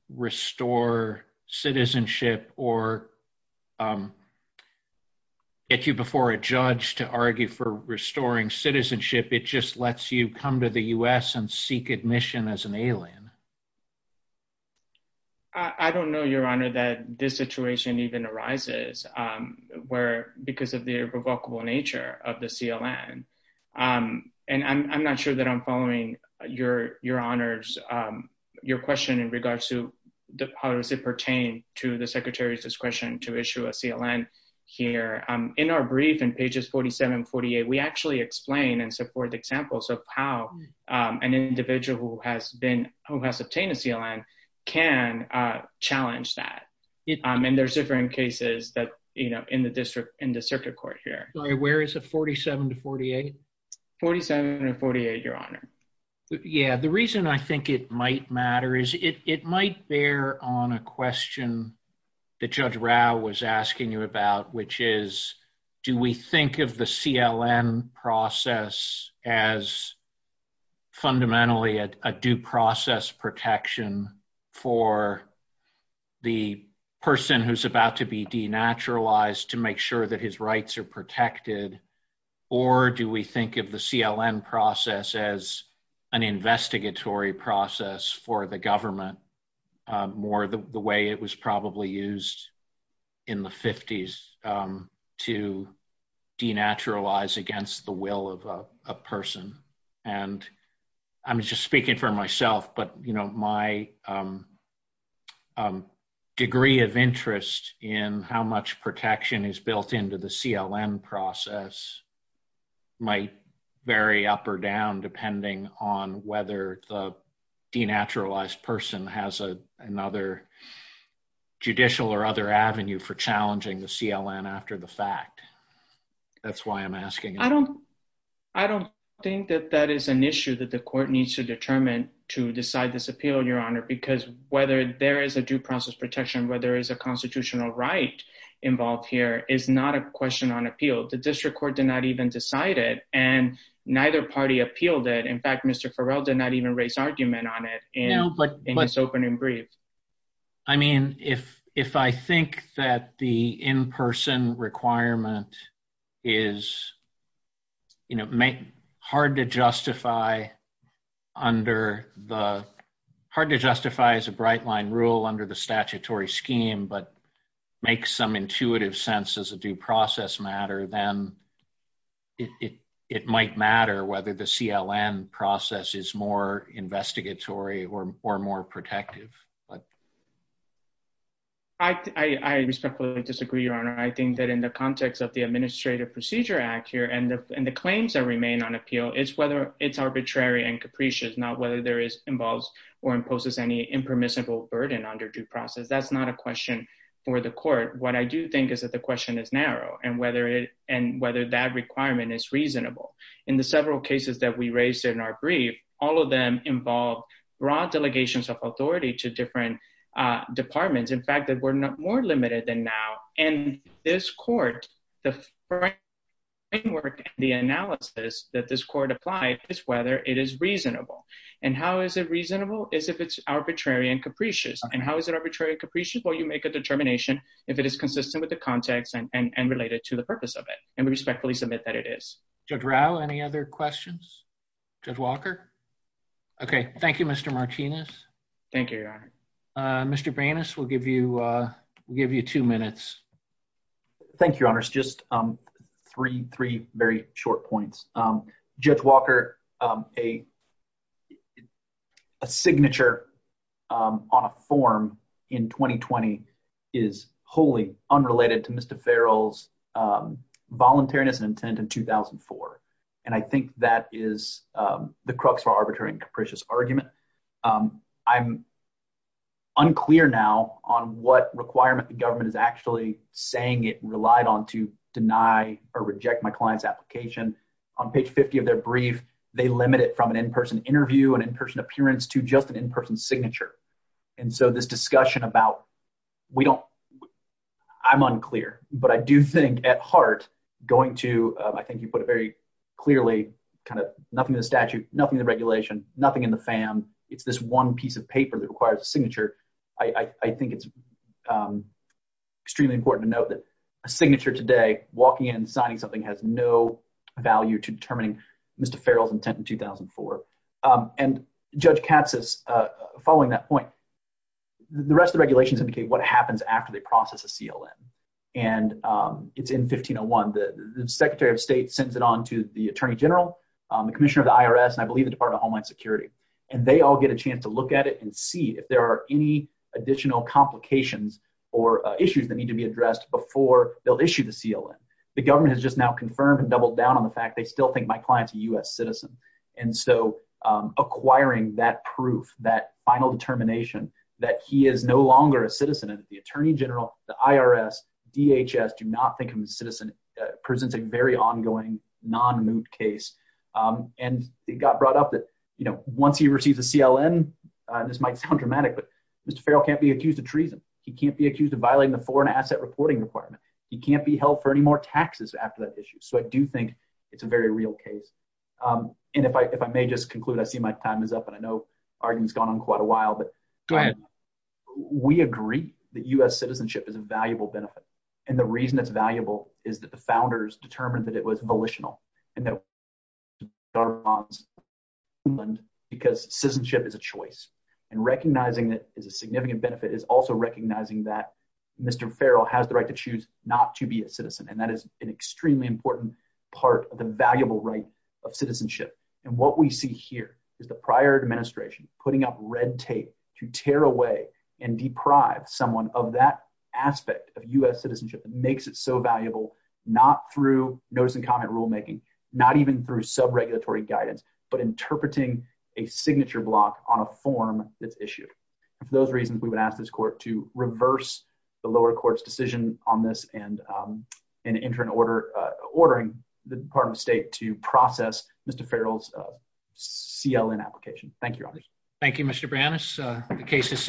restore citizenship or get you before a judge to argue for restoring citizenship. It just lets you come to the U.S. and seek admission as an alien. I don't know, Your Honor, that this situation even arises because of the irrevocable nature of the CLN. And I'm not sure that I'm following Your Honor's question in regards to how does it pertain to the Secretary's discretion to issue a CLN here. In our brief, in pages 47 and 48, we actually explain and support examples of how an individual who has obtained a CLN can challenge that. And there's different cases in the circuit court here. Where is it, 47 to 48? 47 and 48, Your Honor. Yeah, the reason I think it might matter is it might bear on a question that Judge Rao was asking you about, which is, do we think of the CLN process as fundamentally a due process protection for the person who's about to be denaturalized to make sure that his rights are protected? Or do we think of the CLN process as an investigatory process for the government, more the way it was probably used in the 50s to denaturalize against the will of a person? And I'm just speaking for myself, but my degree of interest in how much protection is built into the CLN process might vary up or down depending on whether the denaturalized person has another judicial or other avenue for challenging the CLN after the fact. That's why I'm asking. I don't think that that is an issue that the court needs to determine to decide this appeal, Your Honor, because whether there is a due process protection, whether there is a constitutional right involved here is not a question on appeal. The district court did not even decide it, and neither party appealed it. In fact, Mr. Farrell did not even raise argument on it in his opening brief. I mean, if I think that the in-person requirement is hard to justify as a bright line rule under the statutory scheme but makes some intuitive sense as a due process matter, then it might matter whether the CLN process is more investigatory or more protective. I respectfully disagree, Your Honor. I think that in the context of the Administrative Procedure Act here and the claims that remain on appeal, it's whether it's arbitrary and capricious, not whether there is involved or imposes any impermissible burden under due process. That's not a question for the court. What I do think is that the question is narrow and whether that requirement is reasonable. In the several cases that we raised in our brief, all of them involve broad delegations of authority to different departments. In fact, we're more limited than now. And this court, the framework and the analysis that this court applied is whether it is reasonable. And how is it reasonable is if it's arbitrary and capricious. And how is it arbitrary and capricious? Well, you make a determination if it is consistent with the context and related to the purpose of it. And we respectfully submit that it is. Judge Rao, any other questions? Judge Walker? Okay, thank you, Mr. Martinez. Thank you, Your Honor. Mr. Branis, we'll give you two minutes. Thank you, Your Honor. Just three very short points. Judge Walker, a signature on a form in 2020 is wholly unrelated to Mr. Farrell's voluntariness and intent in 2004. And I think that is the crux of our arbitrary and capricious argument. I'm unclear now on what requirement the government is actually saying it relied on to deny or reject my client's application. On page 50 of their brief, they limit it from an in-person interview, an in-person appearance, to just an in-person signature. And so this discussion about we don't – I'm unclear. But I do think, at heart, going to – I think you put it very clearly, kind of nothing in the statute, nothing in the regulation, nothing in the FAM. It's this one piece of paper that requires a signature. I think it's extremely important to note that a signature today, walking in and signing something, has no value to determining Mr. Farrell's intent in 2004. And Judge Katsas, following that point, the rest of the regulations indicate what happens after they process a CLN. And it's in 1501. The Secretary of State sends it on to the Attorney General, the Commissioner of the IRS, and I believe the Department of Homeland Security. And they all get a chance to look at it and see if there are any additional complications or issues that need to be addressed before they'll issue the CLN. The government has just now confirmed and doubled down on the fact they still think my client's a U.S. citizen. And so acquiring that proof, that final determination that he is no longer a citizen, and the Attorney General, the IRS, DHS do not think him a citizen, presents a very ongoing non-moot case. And it got brought up that once he receives a CLN – this might sound dramatic, but Mr. Farrell can't be accused of treason. He can't be accused of violating the Foreign Asset Reporting Requirement. He can't be held for any more taxes after that issue. So I do think it's a very real case. And if I may just conclude, I see my time is up, and I know Arjun's gone on quite a while. Go ahead. We agree that U.S. citizenship is a valuable benefit. And the reason it's valuable is that the founders determined that it was volitional. And that it was a part of the Department of Homeland Security because citizenship is a choice. And recognizing that it is a significant benefit is also recognizing that Mr. Farrell has the right to choose not to be a citizen. And that is an extremely important part of the valuable right of citizenship. And what we see here is the prior administration putting up red tape to tear away and deprive someone of that aspect of U.S. citizenship. It makes it so valuable, not through notice-and-comment rulemaking, not even through sub-regulatory guidance, but interpreting a signature block on a form that's issued. And for those reasons, we would ask this court to reverse the lower court's decision on this and enter an order ordering the Department of State to process Mr. Farrell's CLN application. Thank you, Your Honor. Thank you, Mr. Branis. The case is submitted.